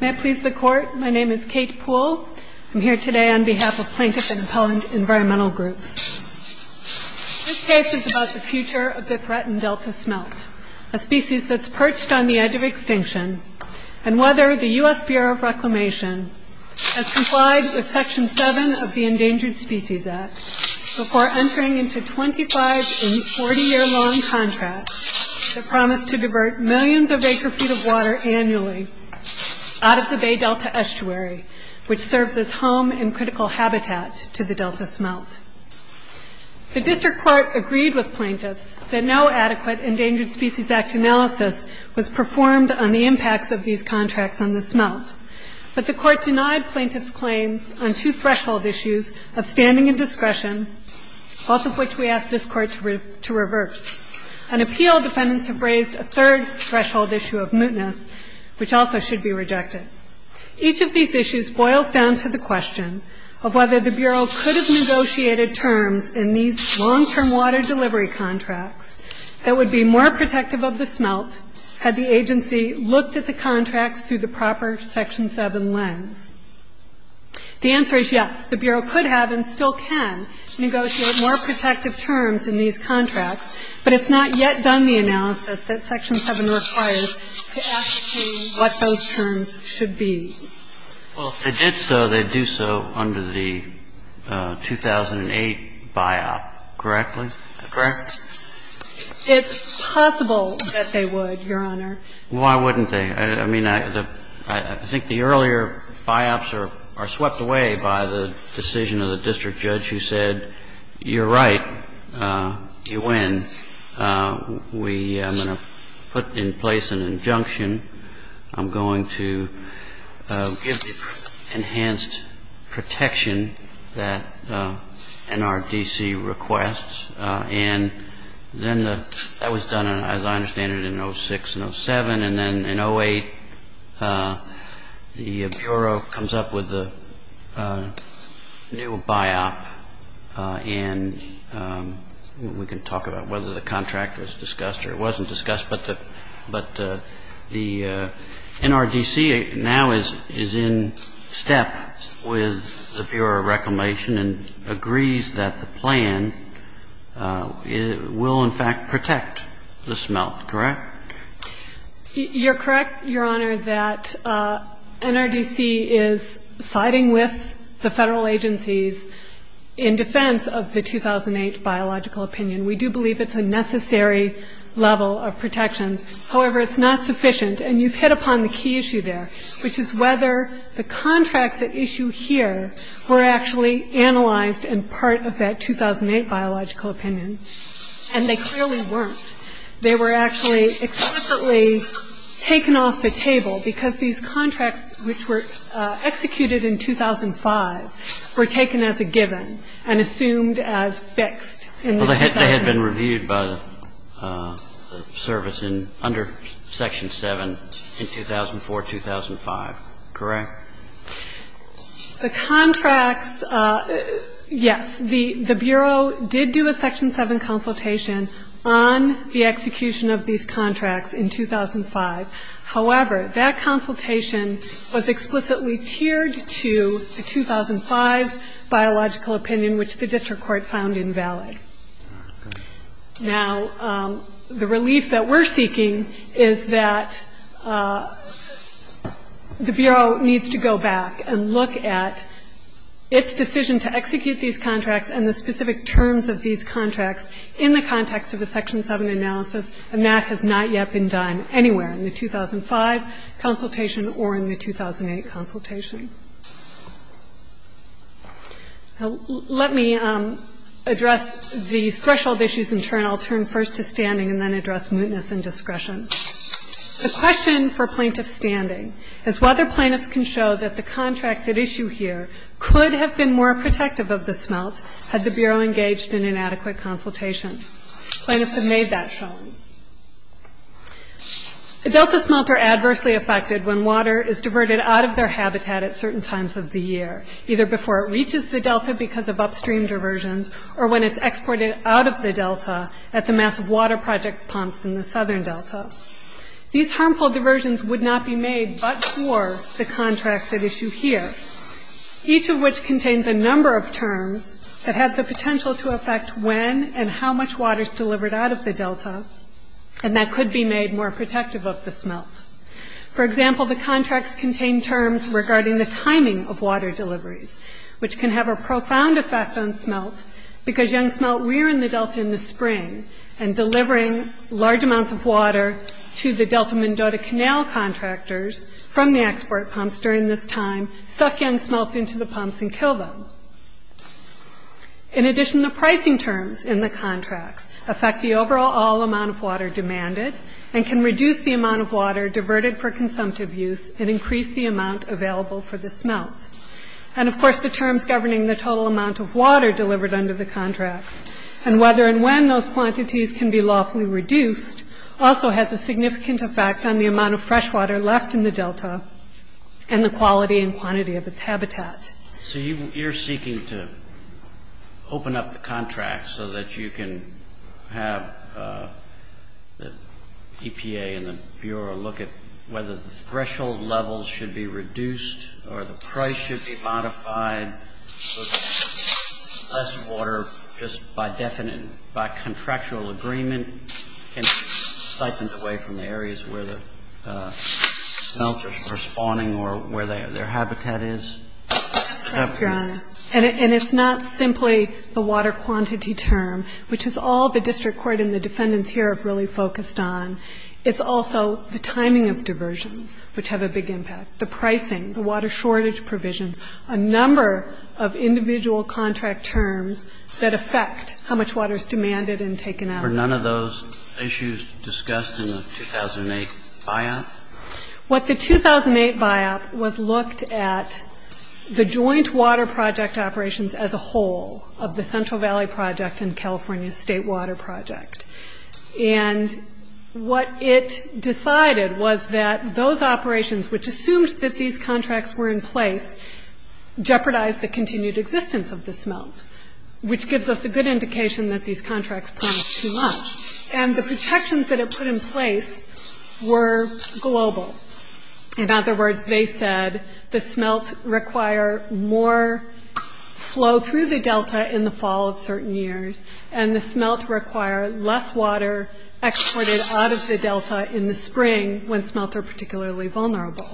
May it please the Court, my name is Kate Poole. I'm here today on behalf of Plaintiff and Appellant Environmental Group. This case is about the future of the threatened delta smelt, a species that's perched on the edge of extinction, and whether the U.S. Bureau of Reclamation has complied with Section 7 of the Endangered Species Act before entering into 25- and 40-year-long contracts that promise to divert millions of acres feet of water annually out of the Bay Delta estuary, which serves as home and critical habitat to the delta smelt. The District Court agreed with plaintiffs that no adequate Endangered Species Act analysis was performed on the impacts of these contracts on the smelt. But the Court denied plaintiffs' claims on two threshold issues of standing and discretion, both of which we asked this Court to revert. An appeal, defendants have raised a third threshold issue of mootness, which also should be rejected. Each of these issues boils down to the question of whether the Bureau could have negotiated terms in these long-term water delivery contracts that would be more protective of the smelt had the agency looked at the contracts through the proper Section 7 lens. The answer is yes. The Bureau could have and still can negotiate more protective terms in these contracts, but it's not yet done the analysis that Section 7 requires to ask you what those terms should be. Well, if they did so, they'd do so under the 2008 BIOB, correctly? Correct. It's possible that they would, Your Honor. Why wouldn't they? I mean, I think the earlier BIOBs are swept away by the decision of the district judge who said, you're right, you win. I'm going to put in place an injunction. I'm going to give enhanced protection that NRDC requests. And then that was done, as I understand it, in 06 and 07. And then in 08, the Bureau comes up with a new BIOB, and we can talk about whether the contract was discussed or it wasn't discussed. But the NRDC now is in step with the Bureau of Reclamation and agrees that the plan will, in fact, protect the smelt, correct? You're correct, Your Honor, that NRDC is siding with the federal agencies in defense of the 2008 BIOB. It's not sufficient, in my opinion. We do believe it's a necessary level of protection. However, it's not sufficient. And you've hit upon the key issue there, which is whether the contracts at issue here were actually analyzed in part of that 2008 BIOB. And they clearly weren't. They were actually explicitly taken off the table because these contracts, which were executed in 2005, were taken as a given and assumed as fixed. They had been reviewed by the service under Section 7 in 2004-2005, correct? The contracts, yes. The Bureau did do a Section 7 consultation on the execution of these contracts in 2005. However, that consultation was explicitly tiered to the 2005 biological opinion, which the district court found invalid. Now, the relief that we're seeking is that the Bureau needs to go back and look at its decision to execute these contracts and the specific terms of these contracts in the context of a Section 7 analysis, and that has not yet been done anywhere in the 2005 consultation or in the 2008 consultation. Now, let me address the threshold issues in turn. I'll turn first to standing and then address mootness and discretion. The question for plaintiff standing is whether plaintiffs can show that the contract at issue here could have been more protective of the smelt had the Bureau engaged in an adequate consultation. Plaintiffs have made that show. The delta smelts are adversely affected when water is diverted out of their habitat at certain times of the year, either before it reaches the delta because of upstream diversions or when it's exported out of the delta at the massive water project pumps in the southern delta. These harmful diversions would not be made but for the contract at issue here, each of which contains a number of terms that have the potential to affect when and how much water is delivered out of the delta, and that could be made more protective of the smelt. For example, the contracts contain terms regarding the timing of water delivery, which can have a profound effect on smelt because young smelt rear in the delta in the spring and delivering large amounts of water to the delta-Mendota Canal contractors from the export pumps during this time suck in smelt into the pumps and kill them. In addition, the pricing terms in the contract affect the overall amount of water demanded and can reduce the amount of water diverted for consumptive use and increase the amount available for the smelt. And of course, the terms governing the total amount of water delivered under the contract and whether and when those quantities can be lawfully reduced also has a significant effect on the amount of freshwater left in the delta and the quality and quantity of its habitat. So you're seeking to open up the contract so that you can have the EPA and the Bureau look at whether the threshold levels should be reduced or the price should be modified so that less water just by contractual agreement can be siphoned away from the areas where the smelt is responding or where their habitat is. And it's not simply the water quantity term, which is all the district court and the defendants here have really focused on. It's also the timing of diversion, which have a big impact, the pricing, the water shortage provision, a number of individual contract terms that affect how much water is demanded and taken out. Were none of those issues discussed in the 2008 buyout? What the 2008 buyout was looked at the joint water project operations as a whole of the Central Valley Project and California State Water Project. And what it decided was that those operations, which assumed that these contracts were in place, jeopardized the continued existence of the smelt, which gives us a good indication that these contracts came too much. And the protections that it put in place were global. In other words, they said the smelts require more flow through the delta in the fall of certain years and the smelts require less water exported out of the delta in the spring when smelts are particularly vulnerable.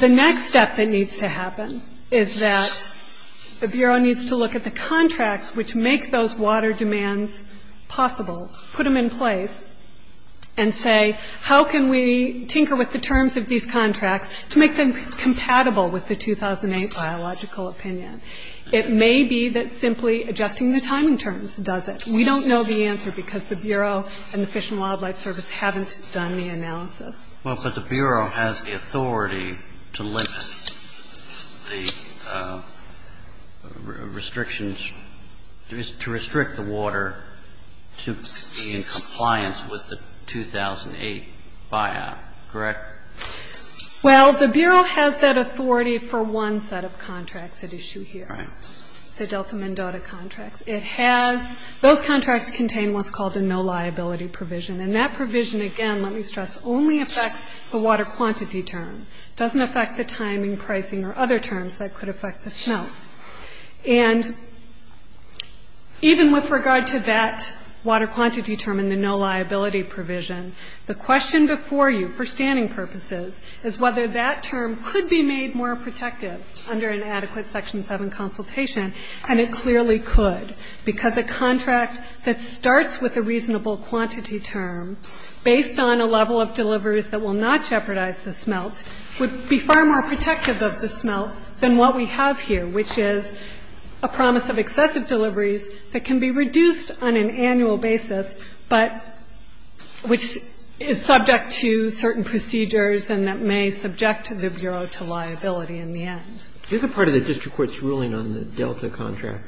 The next step that needs to happen is that the Bureau needs to look at the contracts, which make those water demands possible, put them in place and say, how can we tinker with the terms of these contracts to make them compatible with the 2008 biological opinion? It may be that simply adjusting the timing terms does it. We don't know the answer because the Bureau and the Fish and Wildlife Service haven't done the analysis. Well, but the Bureau has the authority to limit the restrictions, to restrict the water to be in compliance with the 2008 buyout, correct? Well, the Bureau has that authority for one set of contracts at issue here, the Delta Mendoza contracts. It has, those contracts contain what's called a no liability provision. And that provision, again, let me stress, only affects the water quantity terms. It doesn't affect the timing, pricing or other terms that could affect the smelts. And even with regard to that water quantity term and the no liability provision, the question before you for scanning purposes is whether that term could be made more protective under an adequate Section 7 consultation and it clearly could because a contract that starts with a reasonable quantity term based on a level of deliveries that will not jeopardize the smelt would be far more protective of the smelt than what we have here, which is a promise of excessive deliveries that can be reduced on an annual basis, but which is subject to certain procedures and that may subject the Bureau to liability in the end. The other part of the district court's ruling on the Delta contract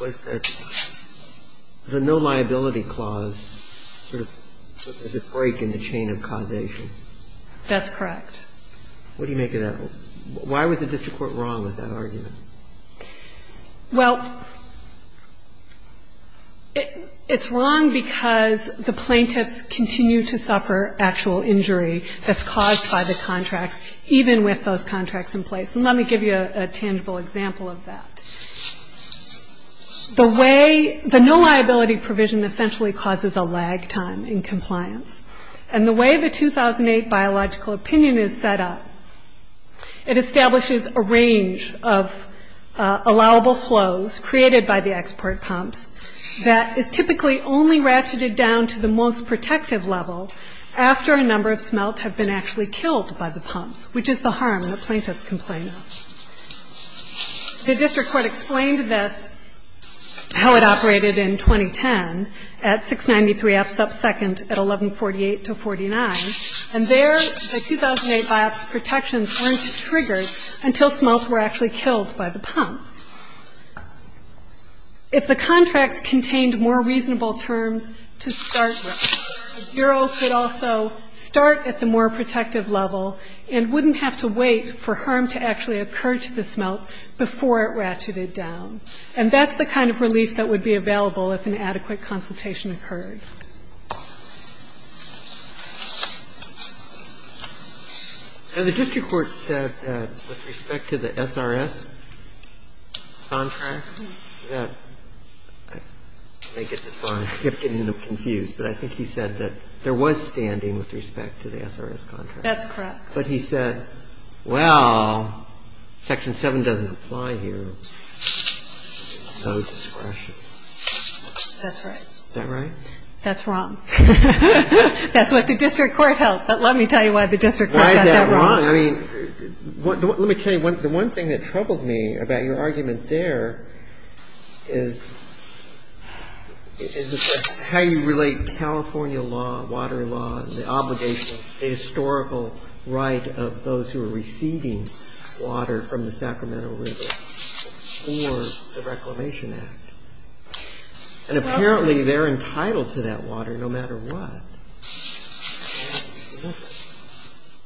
was that the no liability clause was a break in the chain of causation. That's correct. What do you make of that? Why was the district court wrong with that argument? Well, it's wrong because the plaintiffs continue to suffer actual injury that's caused by the contract, even with those contracts in place. And let me give you a tangible example of that. The no liability provision essentially causes a lag time in compliance. And the way the 2008 biological opinion is set up, it establishes a range of allowable flows created by the export pumps that is typically only ratcheted down to the most protective level after a number of smelts have been actually killed by the pumps, which is the harm in a plaintiff's compliance. The district court explained this, how it operated in 2010 at 693 F sub second at 1148 to 49, and there the 2008 biop protections weren't triggered until smelts were actually killed by the pumps. If the contract contained more reasonable terms to start with, the Bureau could also start at the more protective level and wouldn't have to wait for harm to actually occur to the smelt before it ratcheted down. And that's the kind of relief that would be available if an adequate consultation occurred. And the district court said with respect to the SRS contract, I may get this wrong, I'm getting a little confused, but I think he said that there was standing with respect to the SRS contract. That's correct. But he said, well, Section 7 doesn't apply here, so it's discretionary. That's right. Is that right? That's wrong. That's what the district court held. Let me tell you why the district court held that wrong. Let me tell you, the one thing that troubled me about your argument there is how you relate California law, water law, the obligation, the historical right of those who are receiving water from the Sacramento River or the Reclamation Act. And apparently they're entitled to that water no matter what.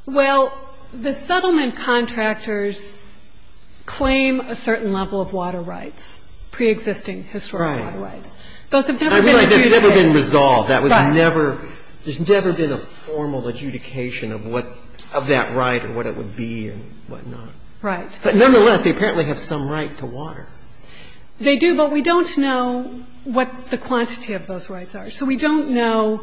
Well, the settlement contractors claim a certain level of water rights, pre-existing historical water rights. Those have never been resolved. There's never been a formal adjudication of that right or what it would be and whatnot. Right. Nonetheless, they apparently have some right to water. They do, but we don't know what the quantity of those rights are. So we don't know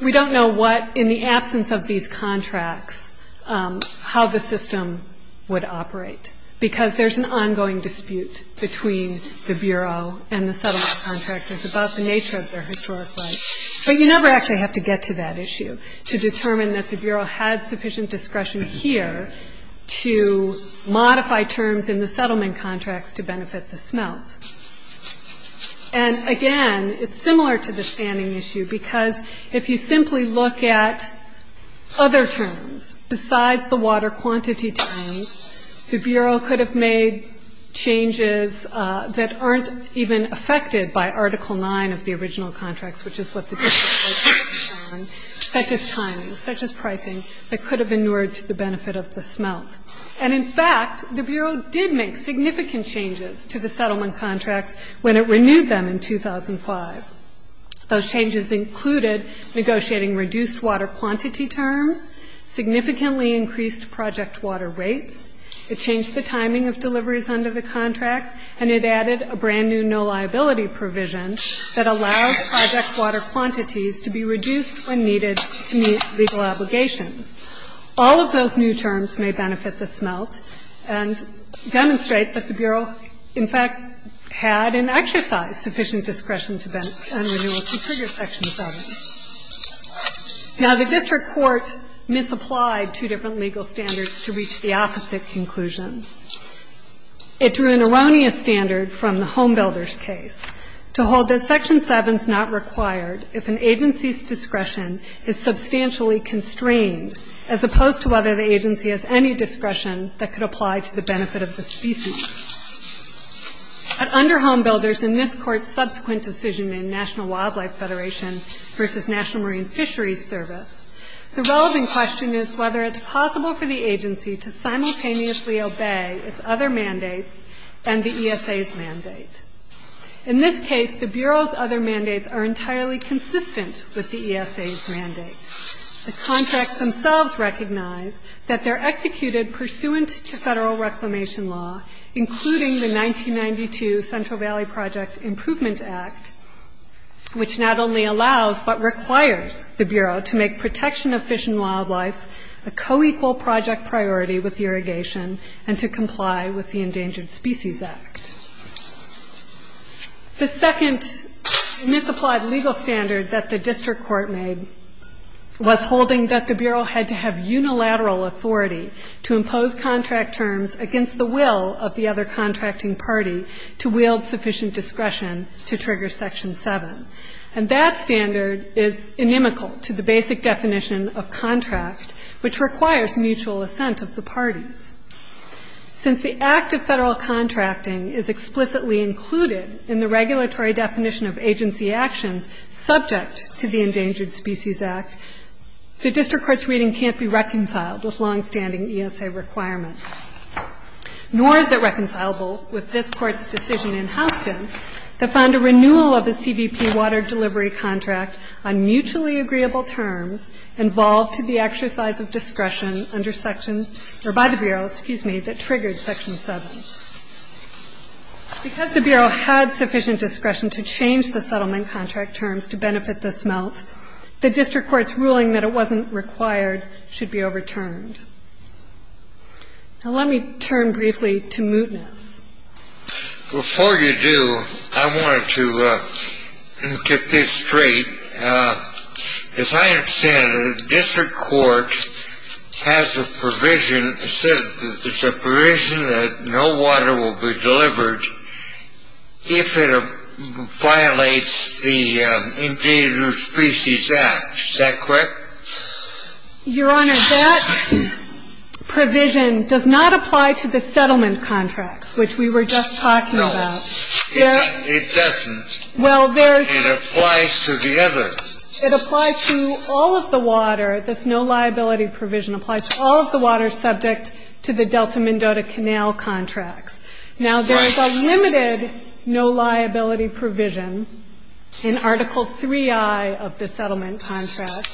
what, in the absence of these contracts, how the system would operate because there's an ongoing dispute between the Bureau and the settlement contractors about the nature of their historic rights. But you never actually have to get to that issue to determine that the Bureau had sufficient discretion here to modify terms in the settlement contracts to benefit the smelt. And again, it's similar to the standing issue because if you simply look at other terms besides the water quantity terms, the Bureau could have made changes that aren't even affected by Article 9 of the original contracts, which is what the district rate system is on, such as timing, such as pricing, that could have been more to the benefit of the smelt. And in fact, the Bureau did make significant changes to the settlement contract when it renewed them in 2005. Those changes included negotiating reduced water quantity terms, significantly increased project water rates, it changed the timing of deliveries under the contract, and it added a brand-new no liability provision that allows project water quantities to be reduced when needed to meet legal obligations. All of those new terms may benefit the smelt and demonstrate that the Bureau, in fact, had an exercise sufficient discretion to renew it to trigger Section 7. Now, the district court misapplied two different legal standards to reach the opposite conclusion. It drew an erroneous standard from the Home Builders case to hold that Section 7 is not required if an agency's discretion is substantially constrained, as opposed to whether the agency has any discretion that could apply to the benefit of the species. But under Home Builders and this court's subsequent decision in National Wildlife Federation versus National Marine Fisheries Service, the relevant question is whether it's possible for the agency to simultaneously obey its other mandates and the ESA's mandate. In this case, the Bureau's other mandates are entirely consistent with the ESA's mandate. The contracts themselves recognize that they're executed pursuant to federal reclamation law, including the 1992 Central Valley Projects Improvement Act, which not only allows but requires the Bureau to make protection of fish and wildlife a co-equal project priority with irrigation and to comply with the Endangered Species Act. The second misapplied legal standard that the district court made was holding that the Bureau had to have unilateral authority to impose contract terms against the will of the other contracting parties to wield sufficient discretion to trigger Section 7. And that standard is inimical to the basic definition of contract, which requires mutual assent of the parties. Since the act of federal contracting is explicitly included in the regulatory definition of agency action subject to the Endangered Species Act, the district court's reading can't be reconciled with long-standing ESA requirements. Nor is it reconcilable with this court's decision in Hopkins that found a renewal of the CBP water delivery contract on mutually agreeable terms involved to the exercise of discretion under Section, or by the Bureau, excuse me, that triggered Section 7. Because the Bureau had sufficient discretion to change the settlement contract terms to benefit this amount, the district court's ruling that it wasn't required should be overturned. Now, let me turn briefly to Mootness. Before you do, I wanted to get this straight. As I understand it, the district court has a provision that no water will be delivered if it violates the Endangered Species Act. Is that correct? Your Honor, that provision does not apply to the settlement contract, which we were just talking about. No, it doesn't. It applies to the others. It applies to all of the water. This no liability provision applies to all of the water subject to the Delta Mendota Canal contract. Now, there is a limited no liability provision in Article 3I of the settlement contract.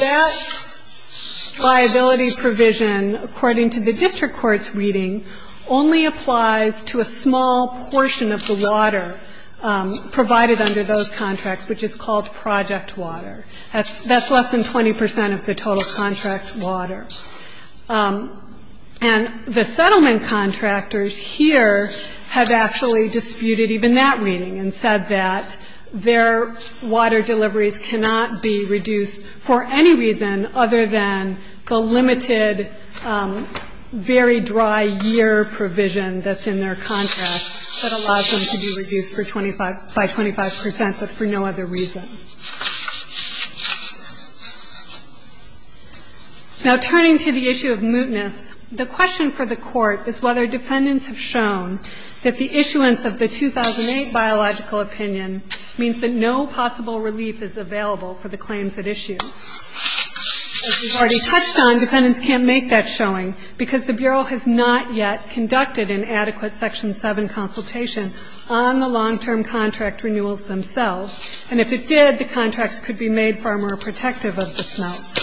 That liability provision, according to the district court's reading, only applies to a small portion of the water provided under those contracts, which is called project water. That's less than 20 percent of the total contract water. And the settlement contractors here have actually disputed even that reading and said that their water deliveries cannot be reduced for any reason other than the limited very dry year provision that's in their contract that allows them to be reduced by 25 percent but for no other reason. Now, turning to the issue of mootness, the question for the court is whether defendants have shown that the issuance of the 2008 biological opinion means that no possible relief is available for the claims at issue. As we've already touched on, defendants can't make that showing because the Bureau has not yet conducted an adequate Section 7 consultation on the long-term contract renewals themselves. And if it did, the contract could be made far more protective of the smelt.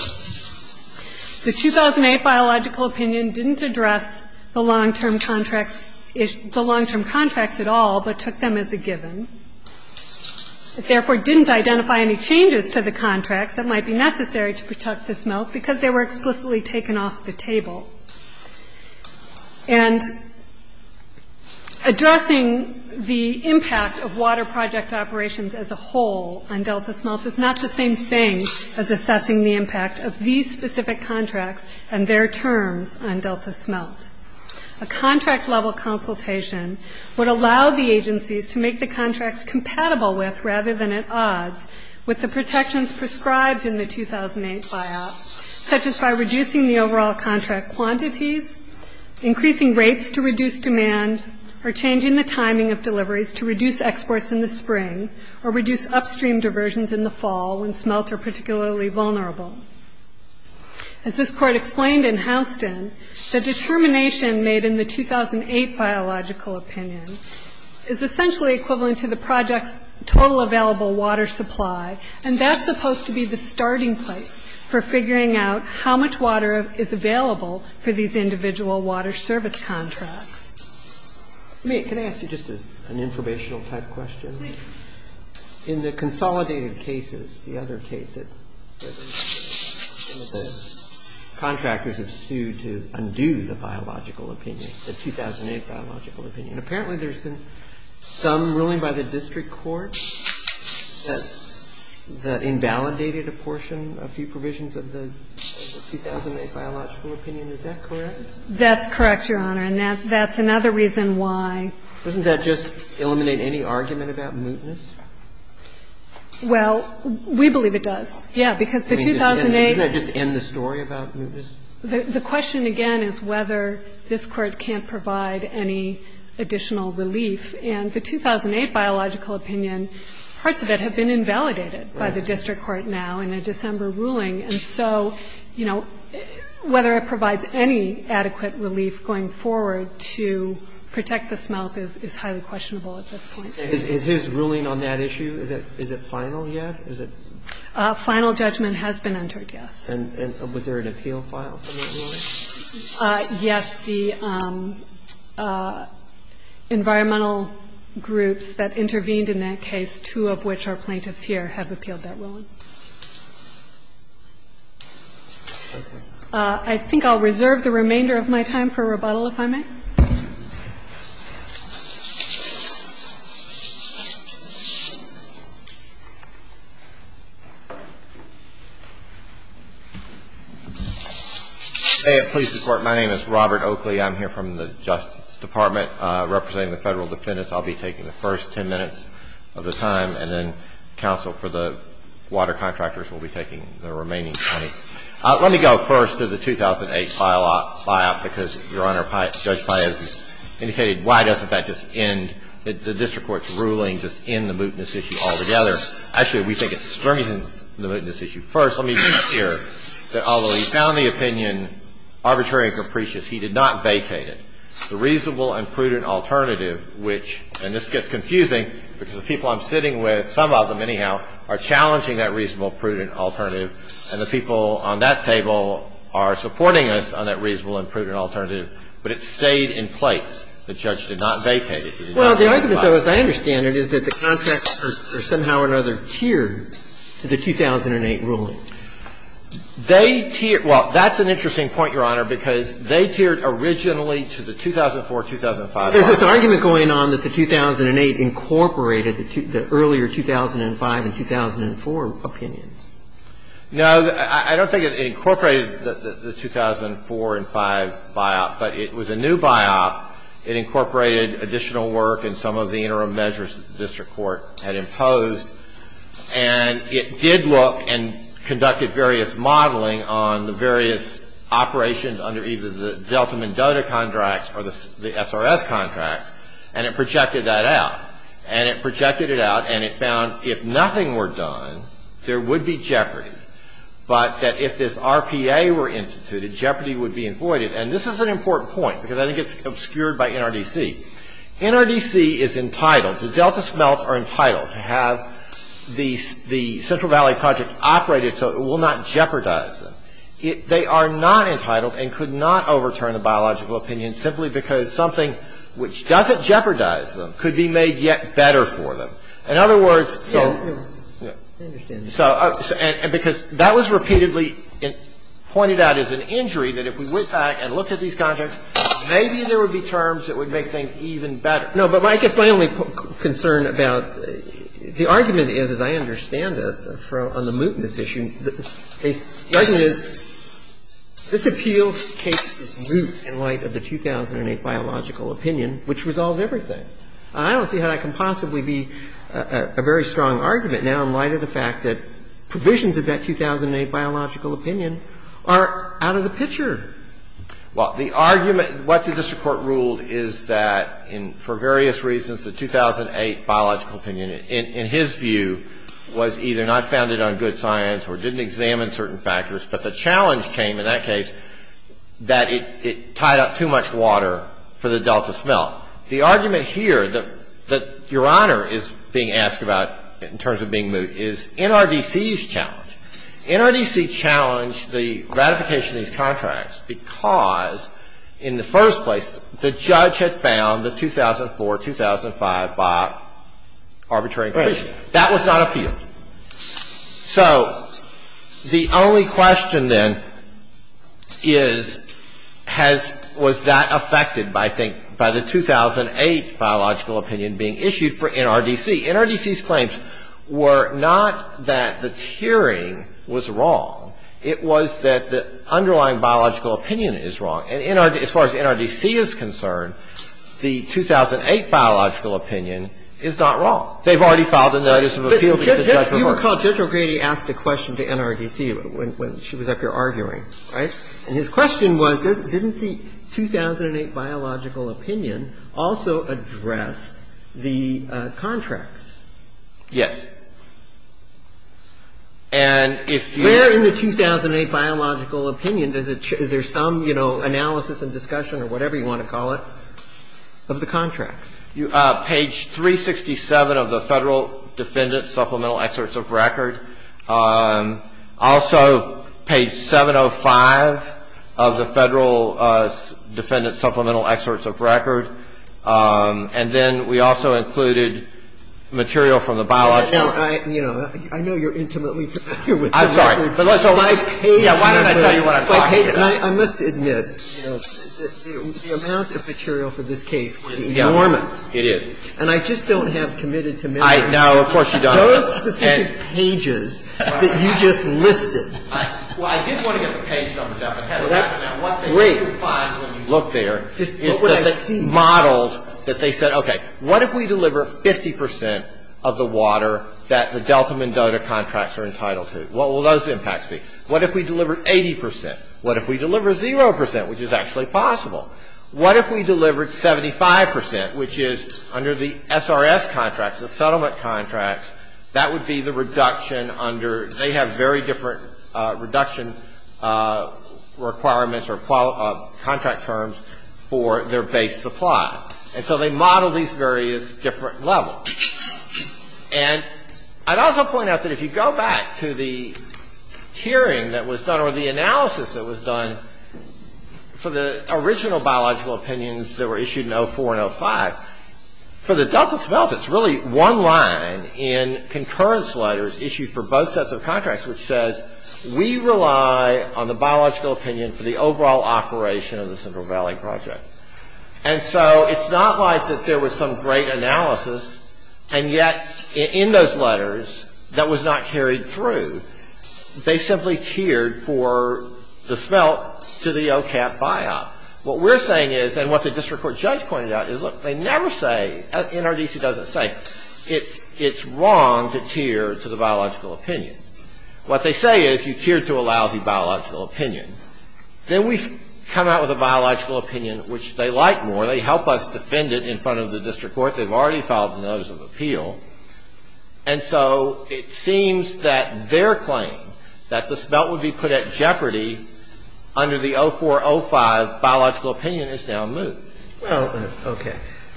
The 2008 biological opinion didn't address the long-term contracts at all but took them as a given. It therefore didn't identify any changes to the contract that might be necessary to protect the smelt because they were explicitly taken off the table. And addressing the impact of water project operations as a whole on delta smelts is not the same thing as assessing the impact of these specific contracts and their terms on delta smelts. A contract-level consultation would allow the agencies to make the contracts compatible with rather than at odds with the protections prescribed in the 2008 buyout such as by reducing the overall contract quantities, increasing rates to reduce demand, or changing the timing of deliveries to reduce exports in the spring or reduce upstream diversions in the fall when smelts are particularly vulnerable. As this Court explained in Houston, the determination made in the 2008 biological opinion is essentially equivalent to the project's total available water supply and that's supposed to be the starting point for figuring out how much water is available for these individual water service contracts. Can I ask you just an informational type question? In the consolidated cases, the other cases, the contractors have sued to undo the biological opinion, the 2008 biological opinion. And apparently there's been some ruling by the district court that invalidated a portion, a few provisions of the 2008 biological opinion. Is that correct? That's correct, Your Honor, and that's another reason why. Doesn't that just eliminate any argument about mootness? Well, we believe it does. Yeah, because the 2008... Doesn't that just end the story about mootness? The question, again, is whether this Court can't provide any additional relief. And the 2008 biological opinion, parts of it have been invalidated by the district court now in a December ruling. And so, you know, whether it provides any adequate relief going forward to protect the smelts is highly questionable at this point. Is his ruling on that issue, is it final yet? Final judgment has been entered, yes. And was there an appeal file in that ruling? Yes, the environmental groups that intervened in that case, two of which are plaintiffs here, have appealed that ruling. I think I'll reserve the remainder of my time for rebuttal if I may. May it please the Court, my name is Robert Oakley. I'm here from the Justice Department representing the federal defendants. I'll be taking the first 10 minutes of the time, and then counsel for the water contractors will be taking the remaining 20. Let me go first to the 2008 file because, Your Honor, Judge Pius has indicated why doesn't that just end the district court's ruling, just end the mootness issue altogether? Actually, we think it strengthens the mootness issue first. Let me be clear that although he found the opinion arbitrary and capricious, he did not vacate it. The reasonable and prudent alternative, which, and this gets confusing because the people I'm sitting with, some of them anyhow, are challenging that reasonable, prudent alternative, and the people on that table are supporting us on that reasonable and prudent alternative, but it stayed in place. The judge did not vacate it. Well, the argument, as I understand it, is that the contractors are somehow or another tiered to the 2008 ruling. They tiered – well, that's an interesting point, Your Honor, because they tiered originally to the 2004-2005 biop. There's this argument going on that the 2008 incorporated the earlier 2005 and 2004 opinions. No, I don't think it incorporated the 2004 and 2005 biop, but it was a new biop. It incorporated additional work and some of the interim measures the district court had imposed, and it did look and conducted various modeling on the various operations under either the Delta Mendoza contracts or the SRS contracts, and it projected that out, and it projected it out, and it found if nothing were done, there would be jeopardy, but that if this RPA were instituted, jeopardy would be avoided. And this is an important point, because I think it's obscured by NRDC. NRDC is entitled, the Delta Smelt are entitled to have the Central Valley Project operated so it will not jeopardize them. They are not entitled and could not overturn a biological opinion simply because something which doesn't jeopardize them could be made yet better for them. In other words, because that was repeatedly pointed out as an injury that if we went back and looked at these contracts, maybe there would be terms that would make things even better. No, but I guess my only concern about the argument is, as I understand it, on the mootness issue, the argument is this appeal takes its root in light of the 2008 biological opinion, which resolved everything. I don't see how it can possibly be a very strong argument now in light of the fact that provisions of that 2008 biological opinion are out of the picture. Well, the argument, what the district court ruled is that for various reasons the 2008 biological opinion, in his view, was either not founded on good science or didn't examine certain factors, but the challenge came in that case that it tied up too much water for the Delta Smelt. The argument here that Your Honor is being asked about in terms of being moot is NRDC's challenge. NRDC challenged the ratification of these contracts because, in the first place, the judge had found the 2004-2005 bio arbitrary inclusion. That was not appealed. So the only question then is, was that affected by the 2008 biological opinion being issued for NRDC? NRDC's claims were not that the tiering was wrong. It was that the underlying biological opinion is wrong. As far as NRDC is concerned, the 2008 biological opinion is not wrong. They've already filed a notice of appeal. You recall Judge O'Grady asked a question to NRDC when she was out there arguing, right? And his question was, didn't the 2008 biological opinion also address the contracts? Yes. And if you... Where in the 2008 biological opinion is there some, you know, analysis and discussion or whatever you want to call it of the contracts? Page 367 of the Federal Defendant Supplemental Excerpts of Record. Also, page 705 of the Federal Defendant Supplemental Excerpts of Record. And then we also included material from the biological... You know, I know you're intimately familiar with the records. I'm sorry. But let's... Yeah, why didn't I tell you what I thought? I must admit, you know, the amount of material for this case is enormous. It is. And I just don't have committed to... I know. Of course you don't. But those specific pages that you just listed... Well, I did want to get the page numbers out. What they do find when you look there is the models that they said, okay, what if we deliver 50% of the water that the Delta Mendoza contracts are entitled to? What will those impacts be? What if we deliver 80%? What if we deliver 0%, which is actually possible? What if we delivered 75%, which is under the SRS contracts, the settlement contracts, that would be the reduction under... They have very different reduction requirements or contract terms for their base supply. And so they model these various different levels. And I'd also point out that if you go back to the hearing that was done or the analysis that was done for the original biological opinions that were issued in 2004 and 2005, for the Delta smelt, it's really one line in concurrence letters issued for both sets of contracts, which says, we rely on the biological opinion for the overall operation of the Central Valley Project. And so it's not like that there was some great analysis, and yet in those letters, that was not carried through. They simply cheered for the smelt to the OCAP buyout. What we're saying is, and what the district court judge pointed out, is, look, they never say, NRDC doesn't say, it's wrong to cheer to the biological opinion. What they say is, you cheered to a lousy biological opinion. Then we come out with a biological opinion, which they like more. They help us defend it in front of the district court. They've already filed a notice of appeal. And so it seems that their claim, that the smelt would be put at jeopardy under the 0405 biological opinion, is now moot. Okay.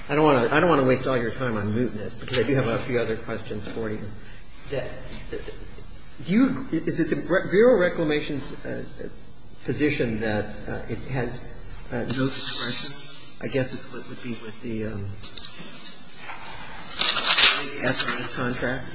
I don't want to waste all your time on mootness, because I do have a few other questions for you. Is it the Bureau of Reclamation's position that it has no discretion? I guess it would be with the SRA contract.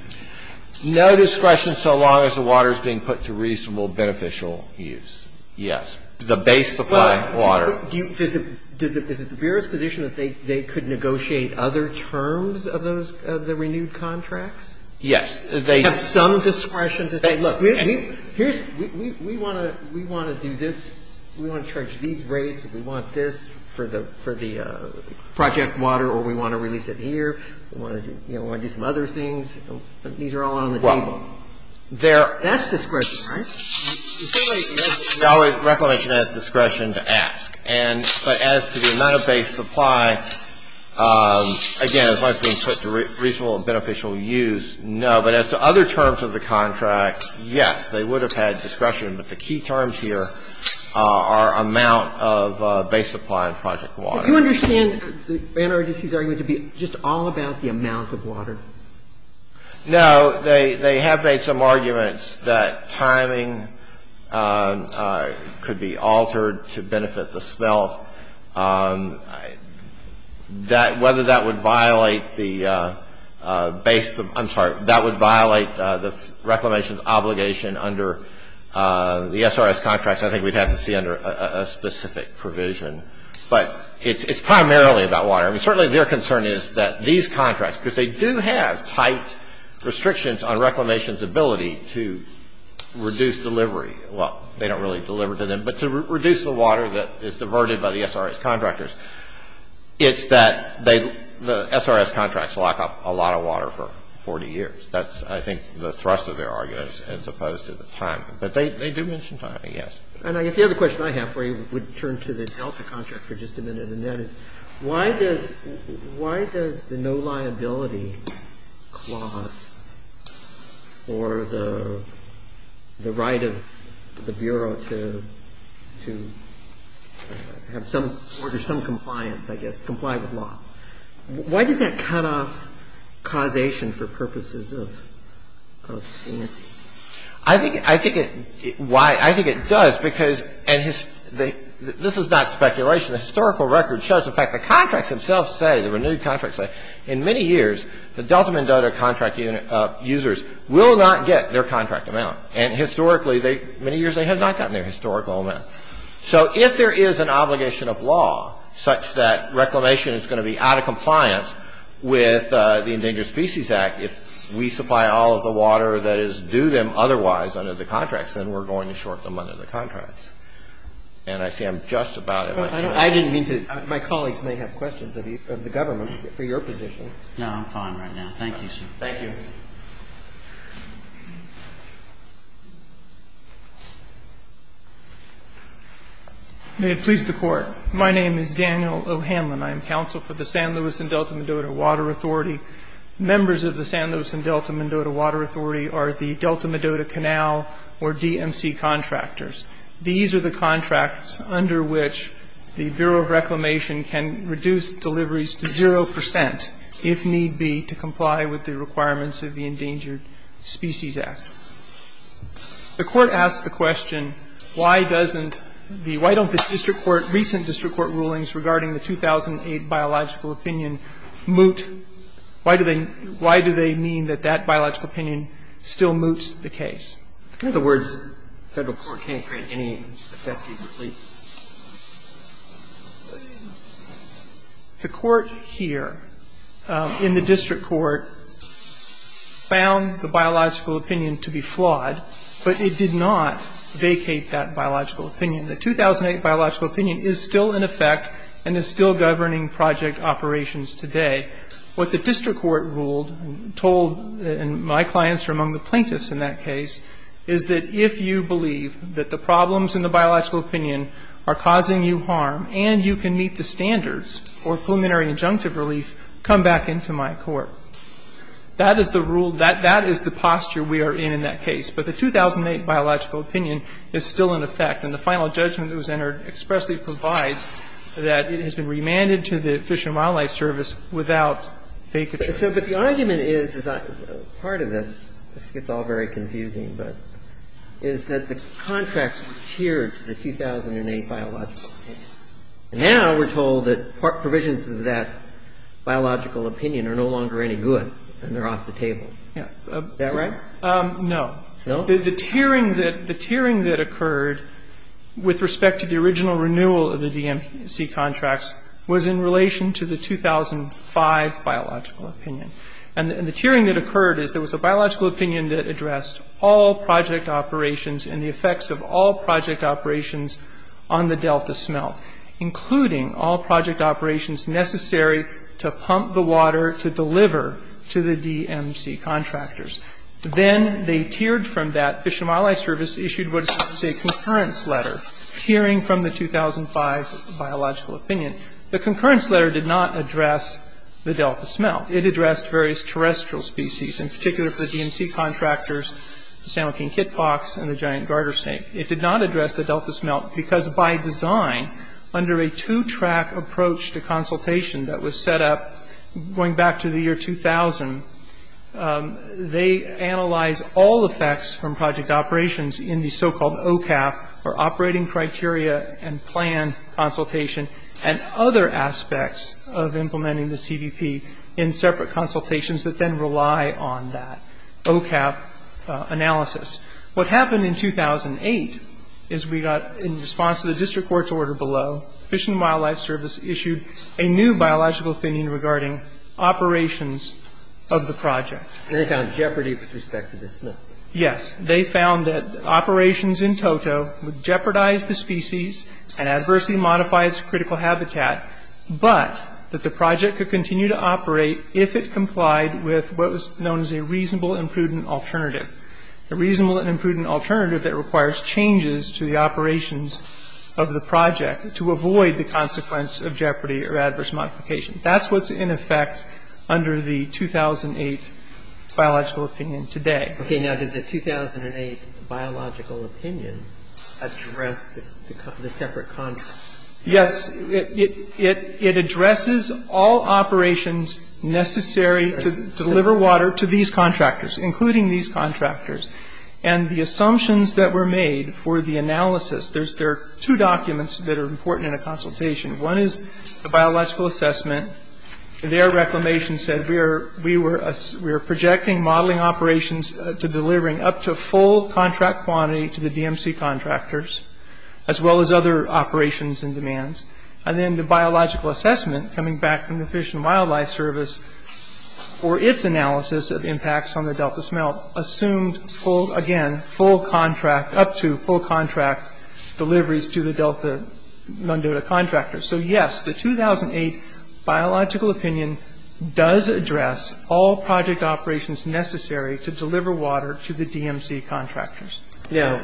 No discretion so long as the water is being put to reasonable, beneficial use. Yes. The base supply of water. Is it the Bureau's position that they could negotiate other terms of the renewed contracts? Yes. They have some discretion to say, look, we want to do this. We want to charge these rates. We want this for the project water, or we want to release it here. We want to do some other things. These are all on the table. That's discretion, right? Reclamation has discretion to ask. But as to the amount of base supply, again, as long as it's being put to reasonable, beneficial use, no. But as to other terms of the contract, yes, they would have had discretion. But the key terms here are amount of base supply and project water. Do you understand the NRDC's argument to be just all about the amount of water? No. They have made some arguments that timing could be altered to benefit the smell. Whether that would violate the reclamation's obligation under the SRS contracts, I think we'd have to see under a specific provision. But it's primarily about water. Certainly their concern is that these contracts, because they do have tight restrictions on reclamation's ability to reduce delivery. Well, they don't really deliver to them. But to reduce the water that is diverted by the SRS contractors, it's that the SRS contracts lock up a lot of water for 40 years. That's, I think, the thrust of their arguments as opposed to the timing. But they do mention timing, yes. And I guess the other question I have for you would turn to the Delta contract for just a minute. And that is, why does the no liability clause for the right of the Bureau to order some compliance, I guess, comply with law? Why does that cut off causation for purposes of sanity? I think it does because, and this is not speculation, the historical record shows the fact that contracts themselves say, the renewed contracts say, in many years, the Delta Mendoza contract users will not get their contract amount. And historically, many years they have not gotten their historical amount. So if there is an obligation of law such that reclamation is going to be out of compliance with the Endangered Species Act, if we supply all of the water that is due them otherwise under the contracts, then we're going to short them under the contracts. And I see I'm just about at my time. I didn't mean to. My colleagues may have questions of the government for your position. No, I'm fine right now. Thank you, sir. Thank you. May it please the Court. My name is Daniel O'Hanlon. I am counsel for the San Luis and Delta Mendoza Water Authority. Members of the San Luis and Delta Mendoza Water Authority are the Delta Mendoza Canal or DMC contractors. These are the contracts under which the Bureau of Reclamation can reduce deliveries to zero percent, if need be, to comply with the requirements of the Endangered Species Act. The Court asked the question, why doesn't the White House district court, recent district court rulings regarding the 2008 biological opinion moot? Why do they mean that that biological opinion still moots the case? In other words, the federal court can't create any effective relief. The court here, in the district court, found the biological opinion to be flawed, but it did not vacate that biological opinion. The 2008 biological opinion is still in effect and is still governing project operations today. What the district court ruled, told, and my clients are among the plaintiffs in that case, is that if you believe that the problems in the biological opinion are causing you harm and you can meet the standards for preliminary injunctive relief, come back into my court. That is the rule. That is the posture we are in in that case. But the 2008 biological opinion is still in effect, and the final judgment that was entered expressly provides that it has been remanded to the Fish and Wildlife Service without vacancy. But the argument is, part of this gets all very confusing, is that the contract was tiered to the 2008 biological opinion. Now we're told that part provisions of that biological opinion are no longer any good and they're off the table. Is that right? No. No? The tiering that occurred with respect to the original renewal of the DMC contracts was in relation to the 2005 biological opinion. And the tiering that occurred is there was a biological opinion that addressed all project operations and the effects of all project operations on the Delta smelt, including all project operations necessary to pump the water to deliver to the DMC contractors. Then they tiered from that. And the 2005 Fish and Wildlife Service issued what is known as a concurrence letter, tiering from the 2005 biological opinion. The concurrence letter did not address the Delta smelt. It addressed various terrestrial species, in particular for the DMC contractors, the San Joaquin hit box and the giant garter snake. It did not address the Delta smelt because by design, under a two-track approach to consultation that was set up going back to the year 2000, they analyzed all the facts from project operations in the so-called OCAF, or Operating Criteria and Plan Consultation, and other aspects of implementing the CDP in separate consultations that then rely on that OCAF analysis. What happened in 2008 is we got, in response to the district court's order below, the 2005 Fish and Wildlife Service issued a new biological opinion regarding operations of the project. They found jeopardy with respect to the smelt. Yes. They found that operations in toto jeopardized the species and adversely modified its critical habitat, but that the project could continue to operate if it complied with what was known as a reasonable and prudent alternative. A reasonable and prudent alternative that requires changes to the operations of the project to avoid the consequence of jeopardy or adverse modification. That's what's in effect under the 2008 biological opinion today. Okay. Now, did the 2008 biological opinion address the separate contracts? Yes. It addresses all operations necessary to deliver water to these contractors, including these contractors. And the assumptions that were made for the analysis, there are two documents that are important in a consultation. One is the biological assessment. Their reclamation said we were projecting modeling operations to delivering up to full contract quantity to the DMC contractors, as well as other operations and demands. And then the biological assessment coming back from the Fish and Wildlife Service for its analysis of impacts on the delta smelt assumed, again, full contract, up to full contract deliveries to the delta mundota contractors. So, yes, the 2008 biological opinion does address all project operations necessary to deliver water to the DMC contractors. Now,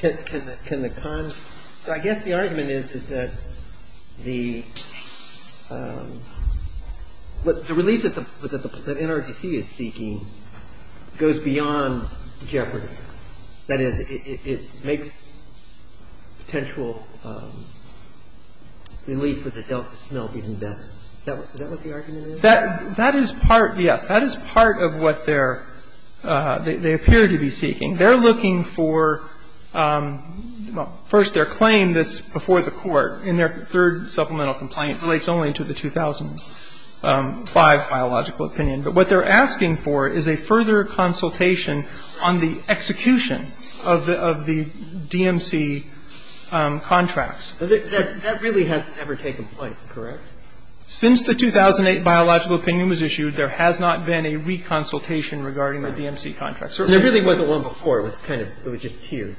can the con ‑‑ I guess the argument is that the release that NRDC is seeking goes beyond jeopardy. That is, it makes potential release of the delta smelt even better. Is that what the argument is? That is part, yes, that is part of what they're, they appear to be seeking. They're looking for, well, first their claim that's before the court and their third supplemental complaint relates only to the 2005 biological opinion. But what they're asking for is a further consultation on the execution of the DMC contracts. That really has never taken place, correct? Since the 2008 biological opinion was issued, there has not been a reconsultation regarding the DMC contracts. There really wasn't one before, it was just here.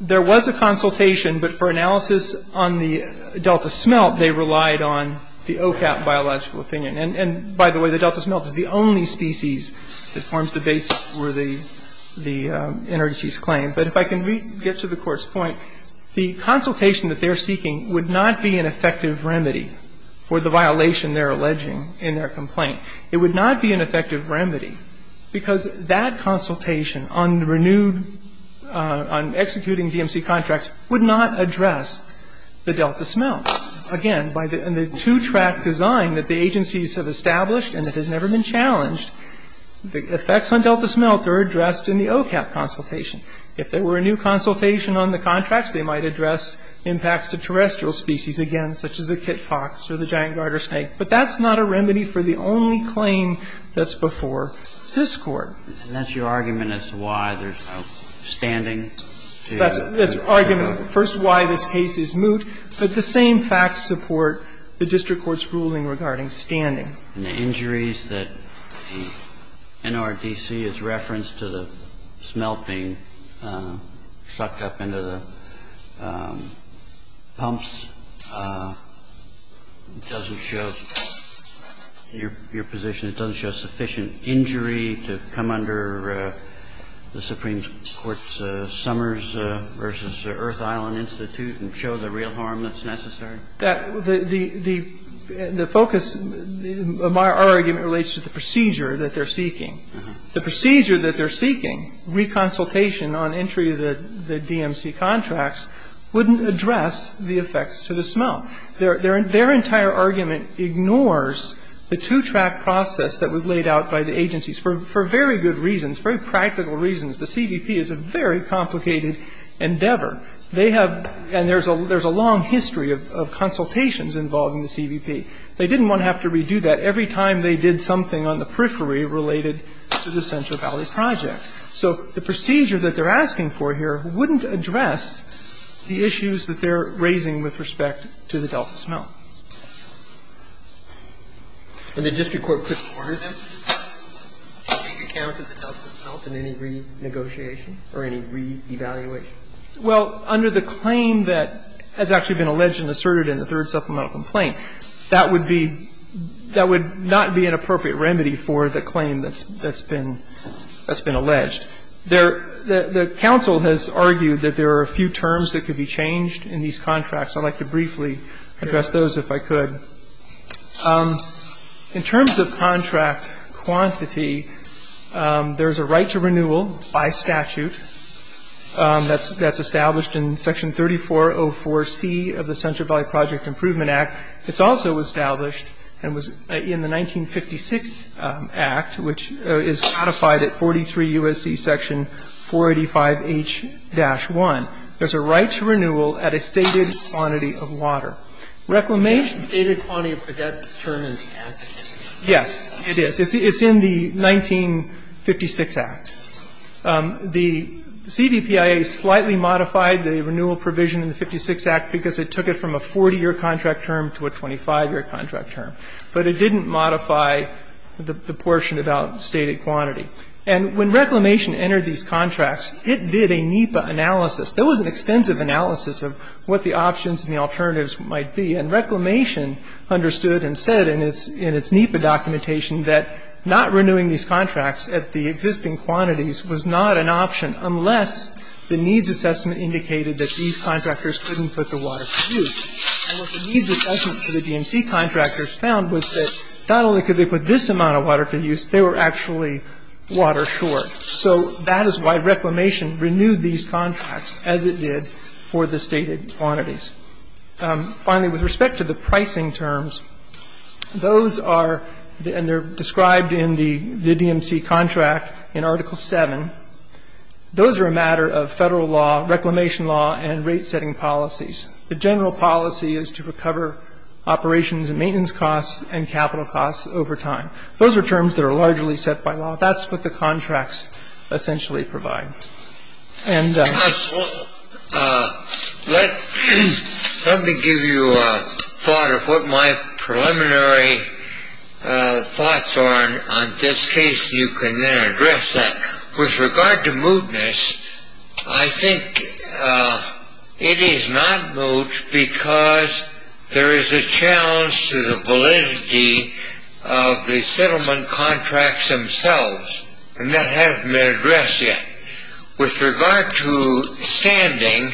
There was a consultation, but for analysis on the delta smelt, they relied on the OCAP biological opinion. And, by the way, the delta smelt is the only species that forms the basis for the NRDC's claim. But if I can get to the court's point, the consultation that they're seeking would not be an effective remedy for the violation they're alleging in their complaint. It would not be an effective remedy, because that consultation on the renewed, on executing DMC contracts would not address the delta smelt. Again, by the two-track design that the agencies have established and that has never been challenged, the effects on delta smelt are addressed in the OCAP consultation. If there were a new consultation on the contracts, they might address impacts to terrestrial species again, such as the kit fox or the giant garter snake. But that's not a remedy for the only claim that's before this Court. And that's your argument as to why there's no standing? That's the argument. First, why this case is moot. But the same facts support the district court's ruling regarding standing. And the injuries that NRDC has referenced to the smelting sucked up into the pumps, it doesn't show, in your position, it doesn't show sufficient injury to come under the Supreme Court's Summers v. Earth Island Institute and show the real harm that's necessary? The focus of our argument relates to the procedure that they're seeking. The procedure that they're seeking, reconsultation on entry of the DMC contracts, wouldn't address the effects to the smelt. Their entire argument ignores the two-track process that was laid out by the agencies for very good reasons, very practical reasons. The CDP is a very complicated endeavor. They have, and there's a long history of consultations involving the CDP. They didn't want to have to redo that every time they did something on the periphery related to the Central Valley Project. So the procedure that they're asking for here wouldn't address the issues that they're raising with respect to the Delta smelt. And the district court could order them to take care of the Delta smelt in any renegotiation or any re-evaluation? Well, under the claim that has actually been alleged and asserted in the third supplemental complaint, that would not be an appropriate remedy for the claim that's been alleged. The council has argued that there are a few terms that could be changed in these contracts. I'd like to briefly address those if I could. In terms of contract quantity, there's a right to renewal by statute that's established in Section 3404C of the Central Valley Project Improvement Act. It's also established in the 1956 Act, which is codified at 43 U.S.C. Section 485H-1. There's a right to renewal at a stated quantity of water. Reclamation... Stated quantity for that term is... Yes, it is. It's in the 1956 Act. The CDPIA slightly modified the renewal provision in the 56 Act because it took it from a 40-year contract term to a 25-year contract term. But it didn't modify the portion about stated quantity. And when Reclamation entered these contracts, it did a NEPA analysis. There was an extensive analysis of what the options and the alternatives might be. And Reclamation understood and said in its NEPA documentation that not renewing these contracts at the existing quantities was not an option unless the needs assessment indicated that these contractors couldn't put the water to use. And what the needs assessment for the DMC contractors found was that not only could they put this amount of water to use, they were actually water short. So that is why Reclamation renewed these contracts as it did for the stated quantities. Finally, with respect to the pricing terms, those are... And they're described in the DMC contract in Article 7. Those are a matter of federal law, reclamation law, and rate-setting policies. The general policy is to recover operations and maintenance costs and capital costs over time. Those are terms that are largely set by law. That's what the contracts essentially provide. Let me give you a thought of what my preliminary thoughts are on this case. You can then address that. With regard to mootness, I think it is not moot because there is a challenge to the validity of the And that hasn't been addressed yet. With regard to standing,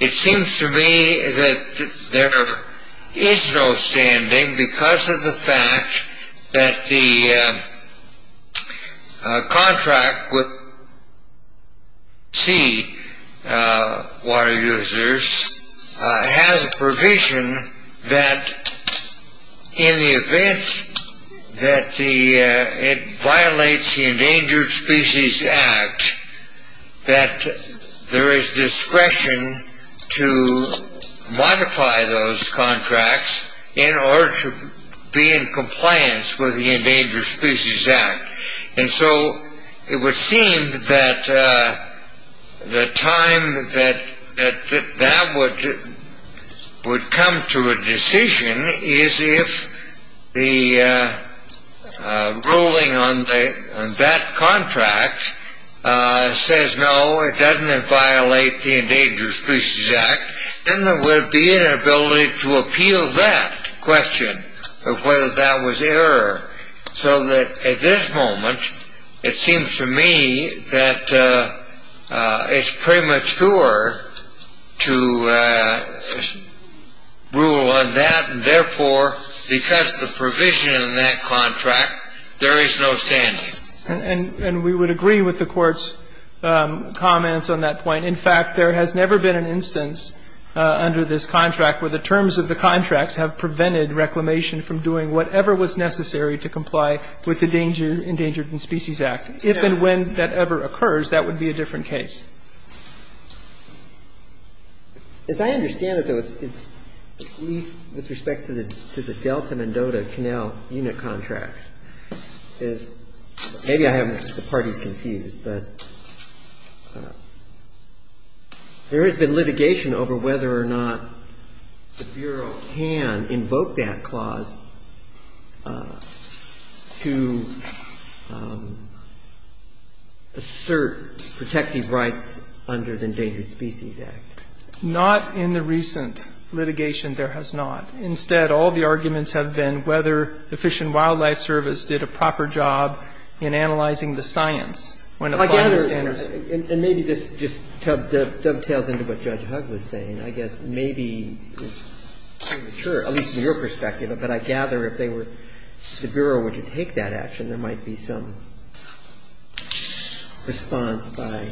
it seems to me that there is no standing because of the fact that the contract with it violates the Endangered Species Act, that there is discretion to modify those contracts in order to be in compliance with the Endangered Species Act. And so it would seem that the time that that would come to a decision is if the ruling on that contract says, no, it doesn't violate the Endangered Species Act, then there would be an ability to appeal that question of whether that was error. So that at this moment, it seems to me that it's premature to rule on that, and therefore because of the provision in that contract, there is no standing. And we would agree with the Court's comments on that point. In fact, there has never been an instance under this contract where the terms of the contracts have prevented reclamation from doing whatever was necessary to comply with the Endangered Species Act. If and when that ever occurs, that would be a different case. As I understand it, with respect to the Delta-Mendota Canal unit contract, there has been litigation over whether or not the Bureau can invoke that clause to assert protective rights under the Endangered Species Act. Not in the recent litigation, there has not. Instead, all the arguments have been whether the Fish and Wildlife Service did a proper job in analyzing the science. And maybe this just dovetails into what Judge Hugg was saying. I guess maybe it's premature, at least from your perspective, but I gather if the Bureau were to take that action, there might be some response by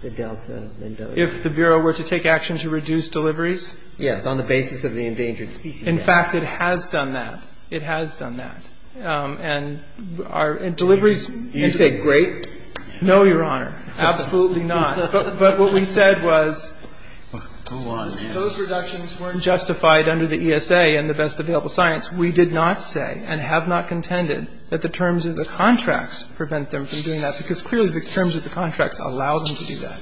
the Delta-Mendota. If the Bureau were to take action to reduce deliveries? Yes, on the basis of the Endangered Species Act. In fact, it has done that. It has done that. And deliveries have been great. No, Your Honor, absolutely not. But what we said was those reductions weren't justified under the ESA and the best available science. We did not say and have not contended that the terms of the contracts prevent them from doing that, because clearly the terms of the contracts allow them to do that.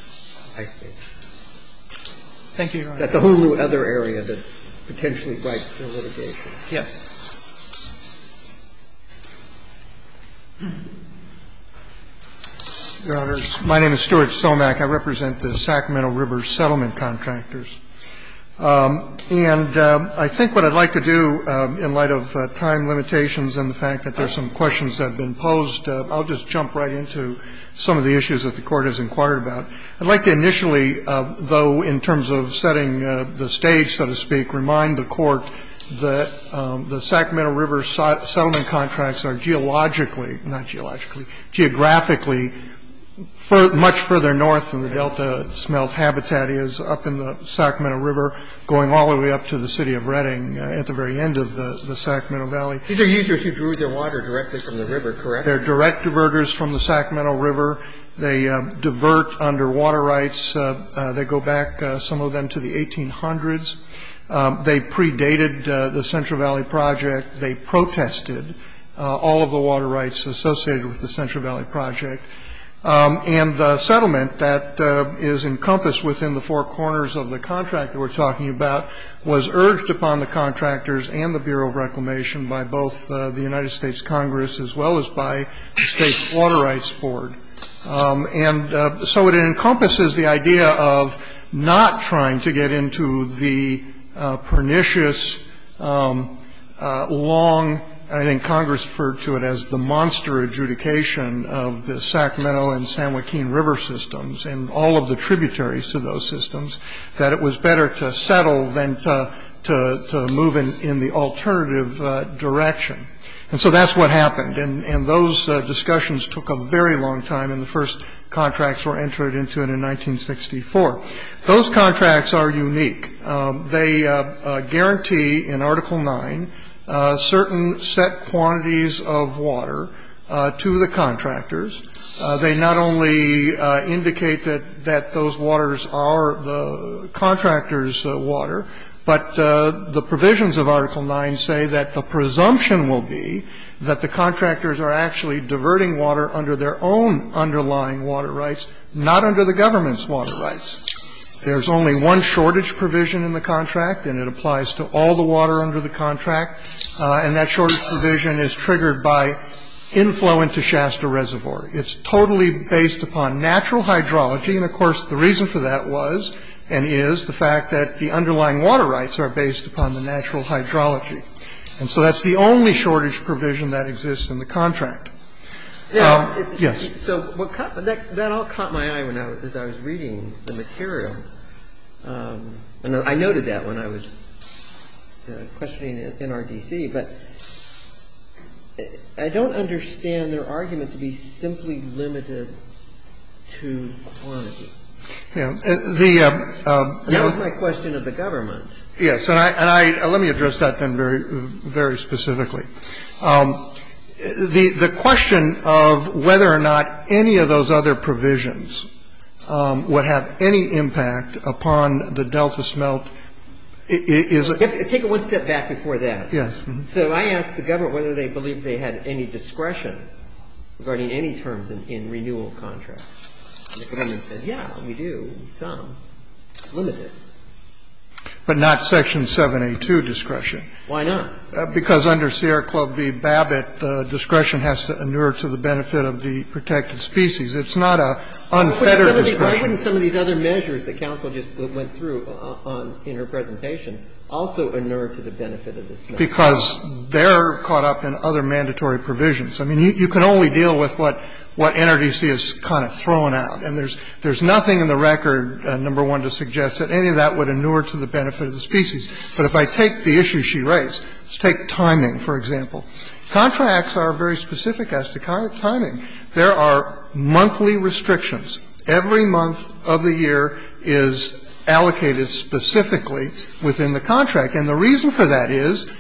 Thank you, Your Honor. That's a whole other area that potentially breaks the litigation. Yes. Your Honors, my name is Stuart Somack. I represent the Sacramento River Settlement Contractors. And I think what I'd like to do in light of time limitations and the fact that there are some questions that have been posed, I'll just jump right into some of the issues that the Court has inquired about. I'd like to initially, though, in terms of setting the stage, so to speak, remind the Court that the Sacramento River Settlement Contracts are geographically much further north than the Delta Smelt Habitat is up in the Sacramento River, going all the way up to the city of Reading at the very end of the Sacramento Valley. These are users who drew their water directly from the river, correct? They're direct diverters from the Sacramento River. They divert under water rights. They go back, some of them, to the 1800s. They predated the Central Valley Project. They protested all of the water rights associated with the Central Valley Project. And the settlement that is encompassed within the four corners of the contract we're talking about was urged upon the contractors and the Bureau of Reclamation by both the United States Congress as well as by the State Water Rights Board. And so it encompasses the idea of not trying to get into the pernicious, long, I think Congress referred to it as the monster adjudication of the Sacramento and San Joaquin River systems and all of the tributaries to those systems that it was better to settle than to move in the alternative direction. And so that's what happened. And those discussions took a very long time, and the first contracts were entered into it in 1964. Those contracts are unique. They guarantee in Article 9 certain set quantities of water to the contractors. They not only indicate that those waters are the contractors' water, but the provisions of Article 9 say that the presumption will be that the contractors are actually diverting water under their own underlying water rights, not under the government's water rights. There's only one shortage provision in the contract, and it applies to all the water under the contract. And that shortage provision is triggered by inflow into Shasta Reservoir. It's totally based upon natural hydrology, and, of course, the reason for that was and is the fact that the underlying water rights are based upon the natural hydrology. And so that's the only shortage provision that exists in the contract. Yes? So that all caught my eye as I was reading the material, and I noted that when I was questioning NRDC, but I don't understand their argument to be simply limited to quantity. That was my question of the government. Yes, and let me address that then very specifically. The question of whether or not any of those other provisions would have any impact upon the Delta smelt is a... Take it one step back before that. Yes. So I asked the government whether they believed they had any discretion regarding any terms in renewal contracts, and the government said, yeah, we do, some, limited. But not Section 782 discretion. Why not? Because under Sierra Club v. Babbitt, discretion has to inure to the benefit of the protected species. It's not a unfettered discretion. But even some of these other measures that counsel just went through in her presentation also inure to the benefit of the species. Because they're caught up in other mandatory provisions. I mean, you can only deal with what NRDC has kind of thrown out, and there's nothing in the record, number one, to suggest that any of that would inure to the benefit of the species. But if I take the issue she raised, let's take timing, for example. Contracts are very specific as to timing. There are monthly restrictions. Every month of the year is allocated specifically within the contract, and the reason for that is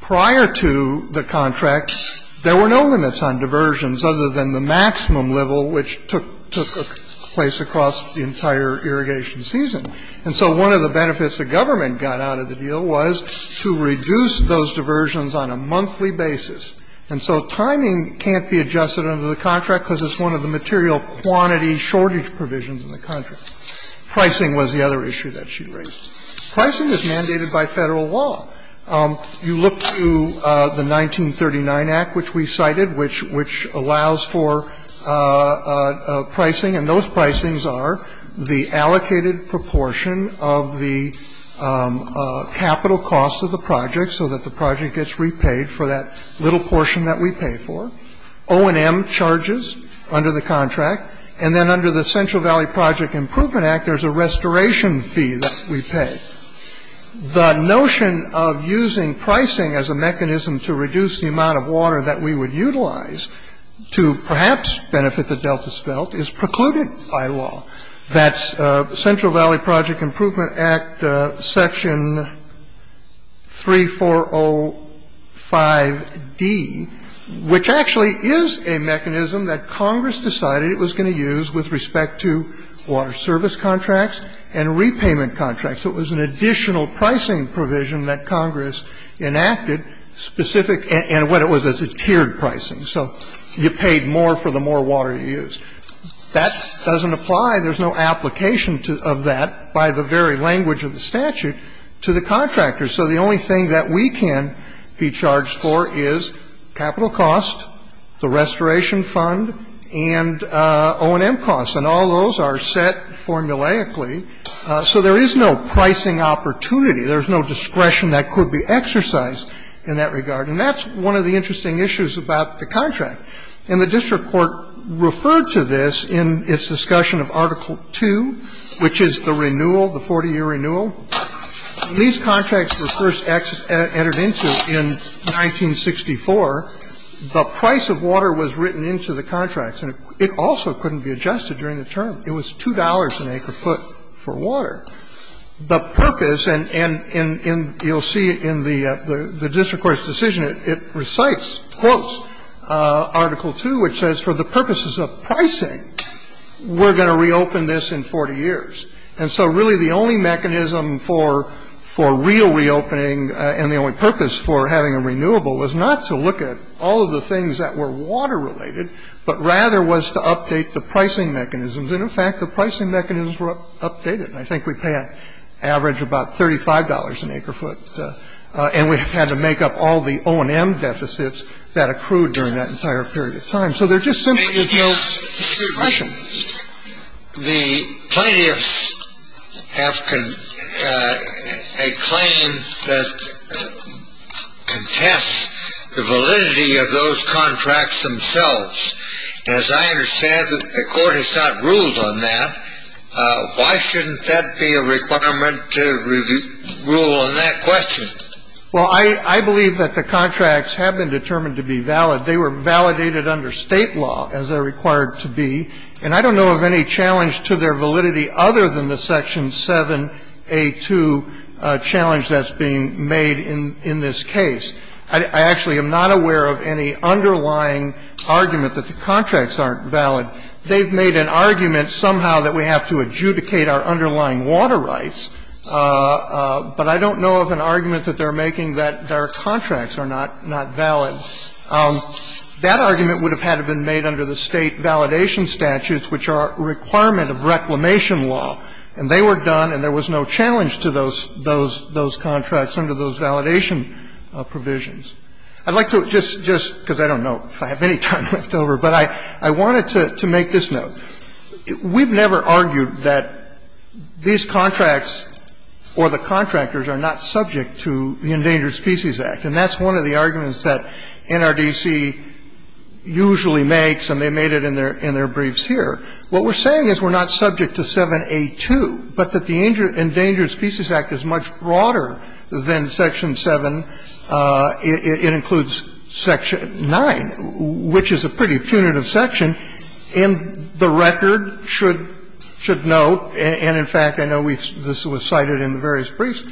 prior to the contracts, there were no limits on diversions other than the maximum level, which took place across the entire irrigation season. And so one of the benefits the government got out of the deal was to reduce those diversions on a monthly basis. And so timing can't be adjusted under the contract because it's one of the material quantity shortage provisions in the contract. Pricing was the other issue that she raised. Pricing is mandated by Federal law. You look to the 1939 Act, which we cited, which allows for pricing, and those pricings are the allocated proportion of the capital cost of the project so that the project gets repaid for that little portion that we pay for. O&M charges under the contract. And then under the Central Valley Project Improvement Act, there's a restoration fee that we pay. The notion of using pricing as a mechanism to reduce the amount of water that we would utilize to perhaps benefit the Delta Svelte is precluded by law. That's Central Valley Project Improvement Act Section 3405D, which actually is a mechanism that Congress decided it was going to use with respect to water service contracts and repayment contracts. It was an additional pricing provision that Congress enacted, specific and what it was as a tiered pricing. So you paid more for the more water you used. That doesn't apply. There's no application of that by the very language of the statute to the contractors. So the only thing that we can be charged for is capital cost, the restoration fund, and O&M costs. And all those are set formulaically. So there is no pricing opportunity. There's no discretion that could be exercised in that regard. And that's one of the interesting issues about the contract. And the district court referred to this in its discussion of Article 2, which is the renewal, the 40-year renewal. These contracts were first entered into in 1964. The price of water was written into the contracts. And it also couldn't be adjusted during the term. It was $2 an acre-foot for water. The purpose, and you'll see in the district court's decision, it recites, quotes Article 2, which says for the purposes of pricing, we're going to reopen this in 40 years. And so really the only mechanism for real reopening and the only purpose for having a renewable was not to look at all of the things that were water-related, but rather was to update the pricing mechanisms. And, in fact, the pricing mechanisms were updated. And I think we pay an average of about $35 an acre-foot. And we had to make up all the O&M deficits that accrued during that entire period of time. So there's just simply no question. The plaintiffs have a claim that contests the validity of those contracts themselves. As I understand it, the court has not ruled on that. Why shouldn't that be a requirement to rule on that question? Well, I believe that the contracts have been determined to be valid. They were validated under state law, as they're required to be. And I don't know of any challenge to their validity other than the Section 7A2 challenge that's being made in this case. I actually am not aware of any underlying argument that the contracts aren't valid. They've made an argument somehow that we have to adjudicate our underlying water rights. But I don't know of an argument that they're making that their contracts are not valid. That argument would have had to have been made under the state validation statutes, which are a requirement of reclamation law. And they were done, and there was no challenge to those contracts under those validation provisions. I'd like to just, because I don't know if I have any time left over, but I wanted to make this note. We've never argued that these contracts or the contractors are not subject to the Endangered Species Act. And that's one of the arguments that NRDC usually makes, and they made it in their briefs here. What we're saying is we're not subject to 7A2, but that the Endangered Species Act is much broader than Section 7. It includes Section 9, which is a pretty punitive section. And the record should note, and in fact, I know this was cited in the various briefs,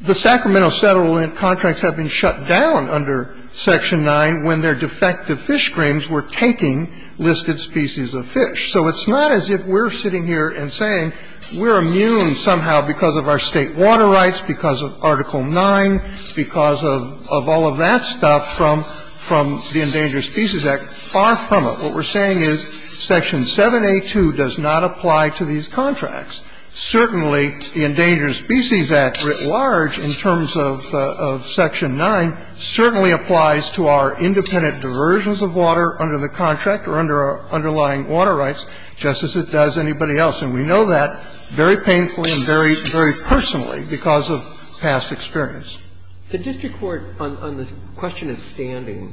the Sacramento Settlement contracts have been shut down under Section 9 when their defective fish screens were taking listed species of fish. So it's not as if we're sitting here and saying we're immune somehow because of our state water rights, because of Article 9, because of all of that stuff from the Endangered Species Act. Far from it. What we're saying is Section 7A2 does not apply to these contracts. Certainly, the Endangered Species Act writ large in terms of Section 9 certainly applies to our independent diversions of water under the contract or under our underlying water rights, just as it does anybody else. And we know that very painfully and very personally because of past experience. The district court, on the question of standing,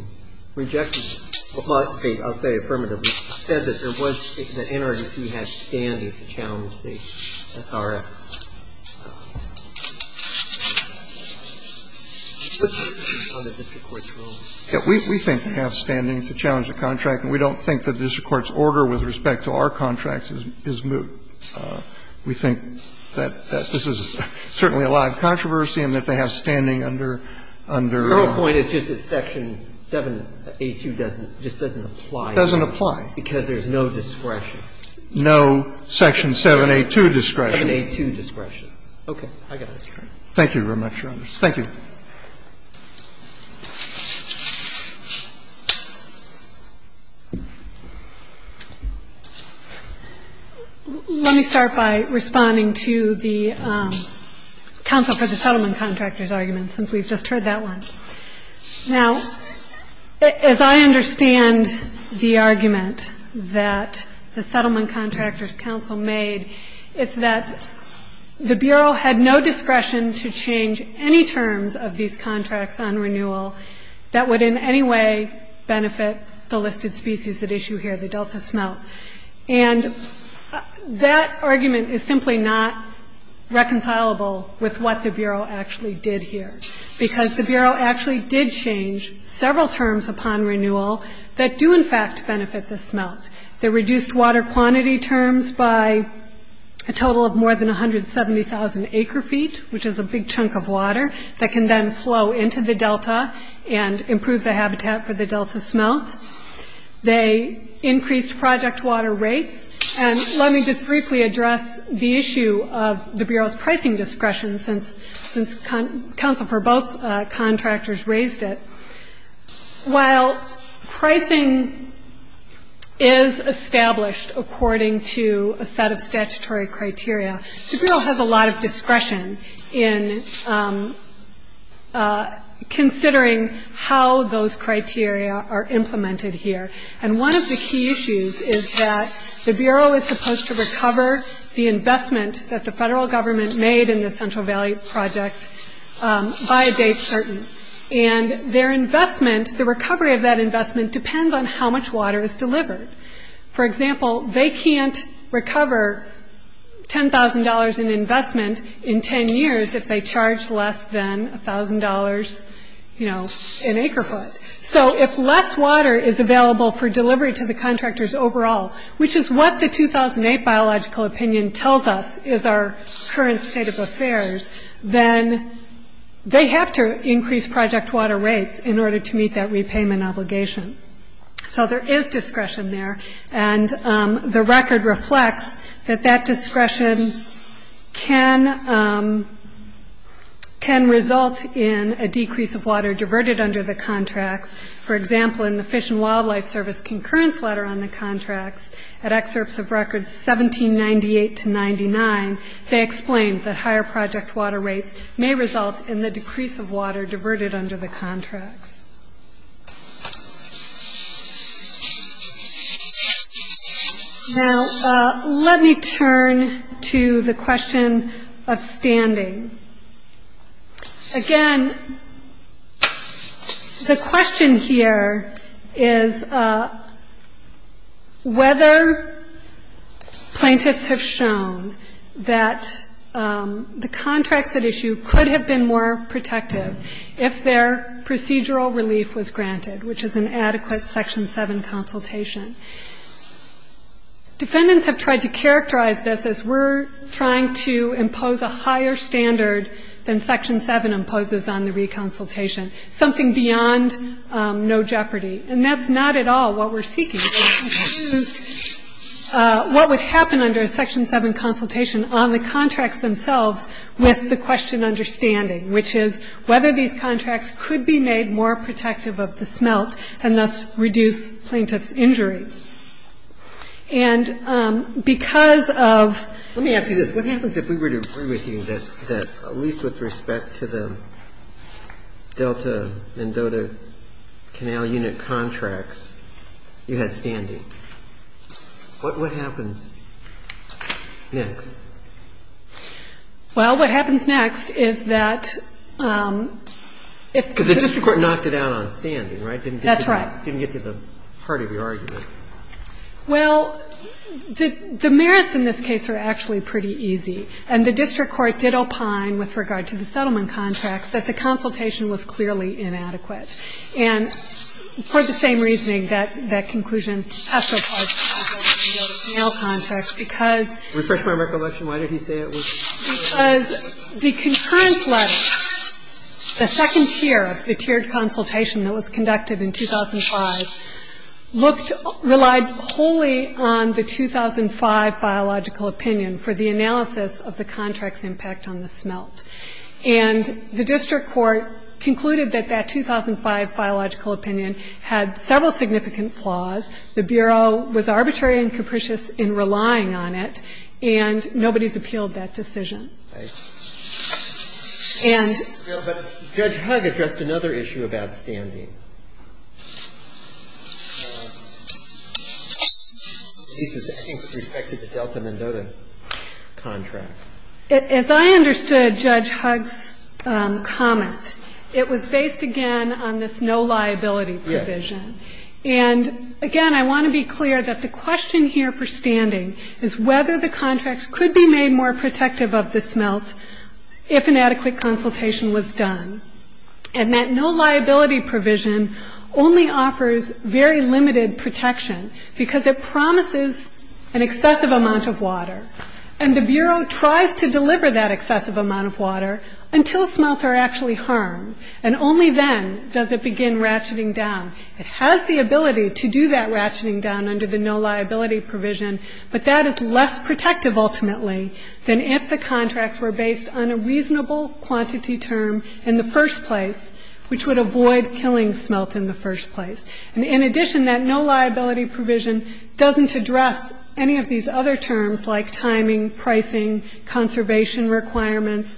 rejected it. Well, I'll say affirmatively, said that there was an NRDC that had standing to challenge the RF. We think we have standing to challenge the contract, and we don't think the district court's order with respect to our contracts is moot. We think that this is certainly a lot of controversy and that they have standing under... The whole point is just that Section 7A2 just doesn't apply. It doesn't apply. Because there's no discretion. No Section 7A2 discretion. 7A2 discretion. Okay, I got it. Thank you very much. Thank you. Let me start by responding to the Council for the Settlement Contractors argument, since we've just heard that one. Now, as I understand the argument that the Settlement Contractors Council made, it's that the Bureau had no discretion to change any terms of these contracts on renewal that would in any way benefit the listed species at issue here, the delta smelt. And that argument is simply not reconcilable with what the Bureau actually did here. Because the Bureau actually did change several terms upon renewal that do in fact benefit the smelt. They reduced water quantity terms by a total of more than 170,000 acre feet, which is a big chunk of water that can then flow into the delta and improve the habitat for the delta smelt. They increased project water rates. And let me just briefly address the issue of the Bureau's pricing discretion, since Council for both contractors raised it. While pricing is established according to a set of statutory criteria, the Bureau has a lot of discretion in considering how those criteria are implemented here. And one of the key issues is that the Bureau is supposed to recover the investment that the federal government made in the Central Valley Project by a date certain. And their investment, the recovery of that investment, depends on how much water is delivered. For example, they can't recover $10,000 in investment in 10 years if they charge less than $1,000 an acre foot. So if less water is available for delivery to the contractors overall, which is what the 2008 biological opinion tells us is our current state of affairs, then they have to increase project water rates in order to meet that repayment obligation. So there is discretion there. And the record reflects that that discretion can result in a decrease of water diverted under the contracts. For example, in the Fish and Wildlife Service concurrence letter on the contracts, at excerpts of records 1798 to 99, they explain that higher project water rates may result in the decrease of water diverted under the contracts. Now, let me turn to the question of standing. Again, the question here is whether plaintiffs have shown that the contracts at issue could have been more protective if their procedural relief was granted, which is an adequate Section 7 consultation. Defendants have tried to characterize this as we're trying to impose a higher standard than Section 7 imposes on the re-consultation, something beyond no jeopardy. And that's not at all what we're seeking. What would happen under a Section 7 consultation on the contracts themselves with the question understanding, which is whether these contracts could be made more protective of the smelt and thus reduce plaintiff's injury? And because of... Let me ask you this. What happens if we were to agree with you that, at least with respect to the Delta and Dota canal unit contracts, you had standing? What happens next? Well, what happens next is that... Because the district court knocked it out on standing, right? That's right. Didn't get to the heart of your argument. Well, the merits in this case are actually pretty easy. And the district court did opine with regard to the settlement contracts that the consultation was clearly inadequate. And for the same reasoning, that conclusion has to apply to the Delta and Dota canal contracts because... Refresh my recollection. Why did he say it was? Because the concurrence letter, the second tier, the tiered consultation that was conducted in 2005, relied wholly on the 2005 biological opinion for the analysis of the contract's impact on the smelt. And the district court concluded that that 2005 biological opinion had several significant flaws. The Bureau was arbitrary and capricious in relying on it, and nobody's appealed that decision. Judge Hugg addressed another issue about standing. I think with respect to the Delta and Dota contracts. As I understood Judge Hugg's comment, it was based, again, on this no liability provision. And, again, I want to be clear that the question here for standing is whether the contracts could be made more protective of the smelt if an adequate consultation was done. And that no liability provision only offers very limited protection because it promises an excessive amount of water. And the Bureau tries to deliver that excessive amount of water until smelts are actually harmed. And only then does it begin ratcheting down. It has the ability to do that ratcheting down under the no liability provision, but that is less protective ultimately than if the contracts were based on a reasonable quantity term in the first place, which would avoid killing smelt in the first place. And, in addition, that no liability provision doesn't address any of these other terms like timing, pricing, conservation requirements,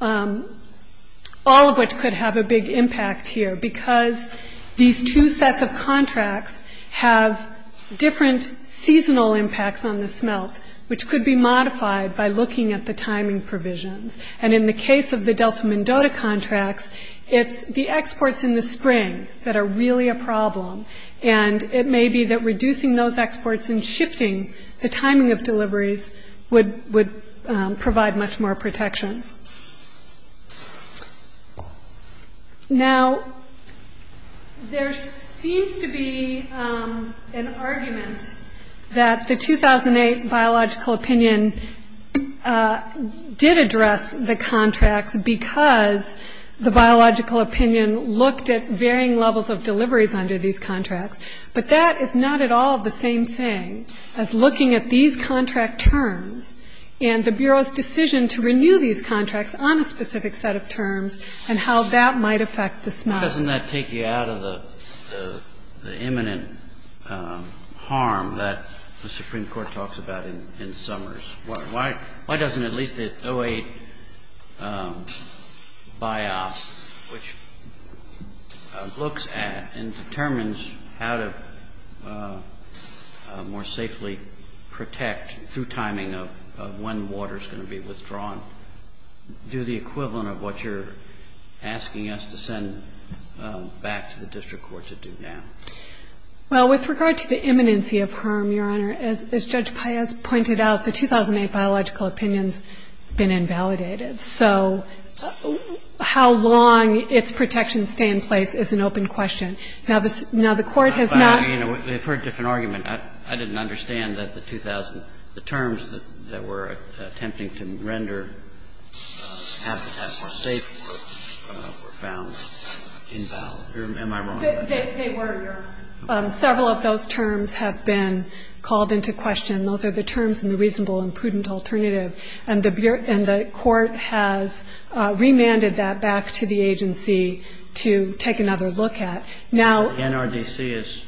all of which could have a big impact here because these two sets of contracts have different seasonal impacts on the smelt, which could be modified by looking at the timing provisions. And in the case of the Delta and Dota contracts, it's the exports in the spring that are really a problem. And it may be that reducing those exports and shifting the timing of deliveries would provide much more protection. Now, there seems to be an argument that the 2008 biological opinion did address the contracts because the biological opinion looked at varying levels of deliveries under these contracts. But that is not at all the same thing as looking at these contract terms and the Bureau's decision to renew these contracts on a specific set of terms and how that might affect the smelt. Why doesn't that take you out of the imminent harm that the Supreme Court talks about in Summers? Why doesn't at least the 2008 BIOS, which looks at and determines how to more safely protect through timing of when water is going to be withdrawn, do the equivalent of what you're asking us to send back to the district courts that do now? Well, with regard to the imminency of harm, Your Honor, as Judge Paez pointed out, the 2008 biological opinion has been invalidated. So how long its protection stay in place is an open question. They've heard a different argument. I didn't understand that the terms that we're attempting to render have to have some safety grounds invalid. They were, Your Honor. Several of those terms have been called into question. Those are the terms in the reasonable and prudent alternative. And the court has remanded that back to the agency to take another look at. NRDC is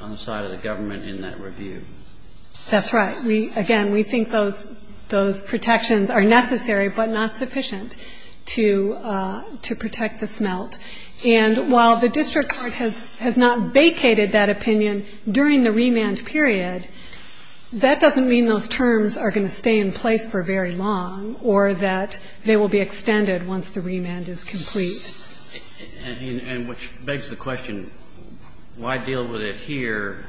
on the side of the government in that review. That's right. Again, we think those protections are necessary but not sufficient to protect the smelt. And while the district court has not vacated that opinion during the remand period, that doesn't mean those terms are going to stay in place for very long or that they will be extended once the remand is complete. And which begs the question, why deal with it here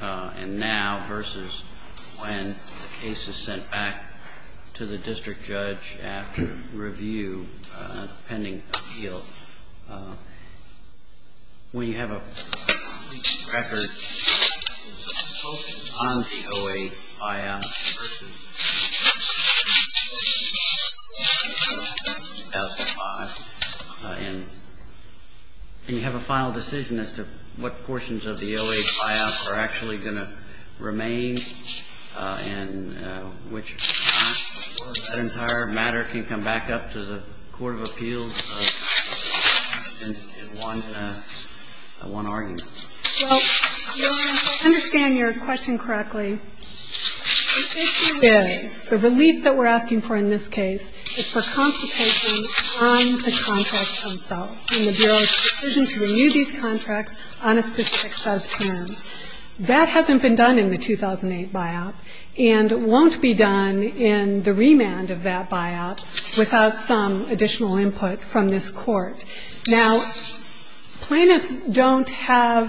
and now versus when the case is sent back to the district judge after review pending appeal? When you have a record on the 08 FIOS versus 2005 and you have a final decision as to what portions of the 08 FIOS are actually going to remain in which case, for that entire matter, can you come back up to the Court of Appeals and want to argue? Well, Your Honor, to understand your question correctly, the issue is the relief that we're asking for in this case is for constipation on the contracts themselves and the Bureau's decision to renew these contracts on a specific set of terms. Now, if you look at the 2008 buyout, that hasn't been done in the 2008 buyout and won't be done in the remand of that buyout without some additional input from this court. Now, plaintiffs don't have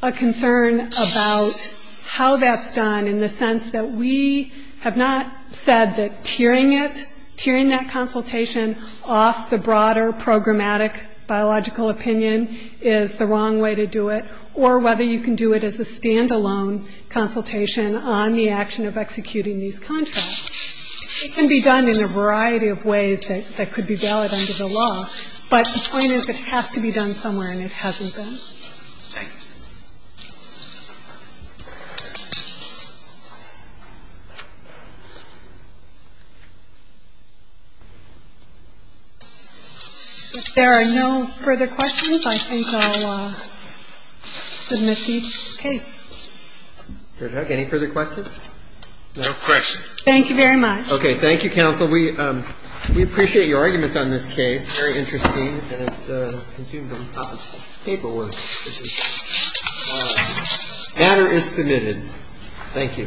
a concern about how that's done in the sense that we have not said that peering it, peering that consultation off the broader programmatic biological opinion is the wrong way to do it or whether you can do it as a stand-alone consultation on the action of executing these contracts. It can be done in a variety of ways that could be valid under the law, but the point is it has to be done somewhere and it hasn't been. Thank you. If there are no further questions, I think I'll submit to each case. Your Honor, any further questions? No questions. Thank you very much. Okay. Thank you, counsel. Counsel, we appreciate your arguments on this case. Very interesting. And it seems to have taught us paperwork. The matter is submitted. Thank you. Thank you, Your Honor. All rise.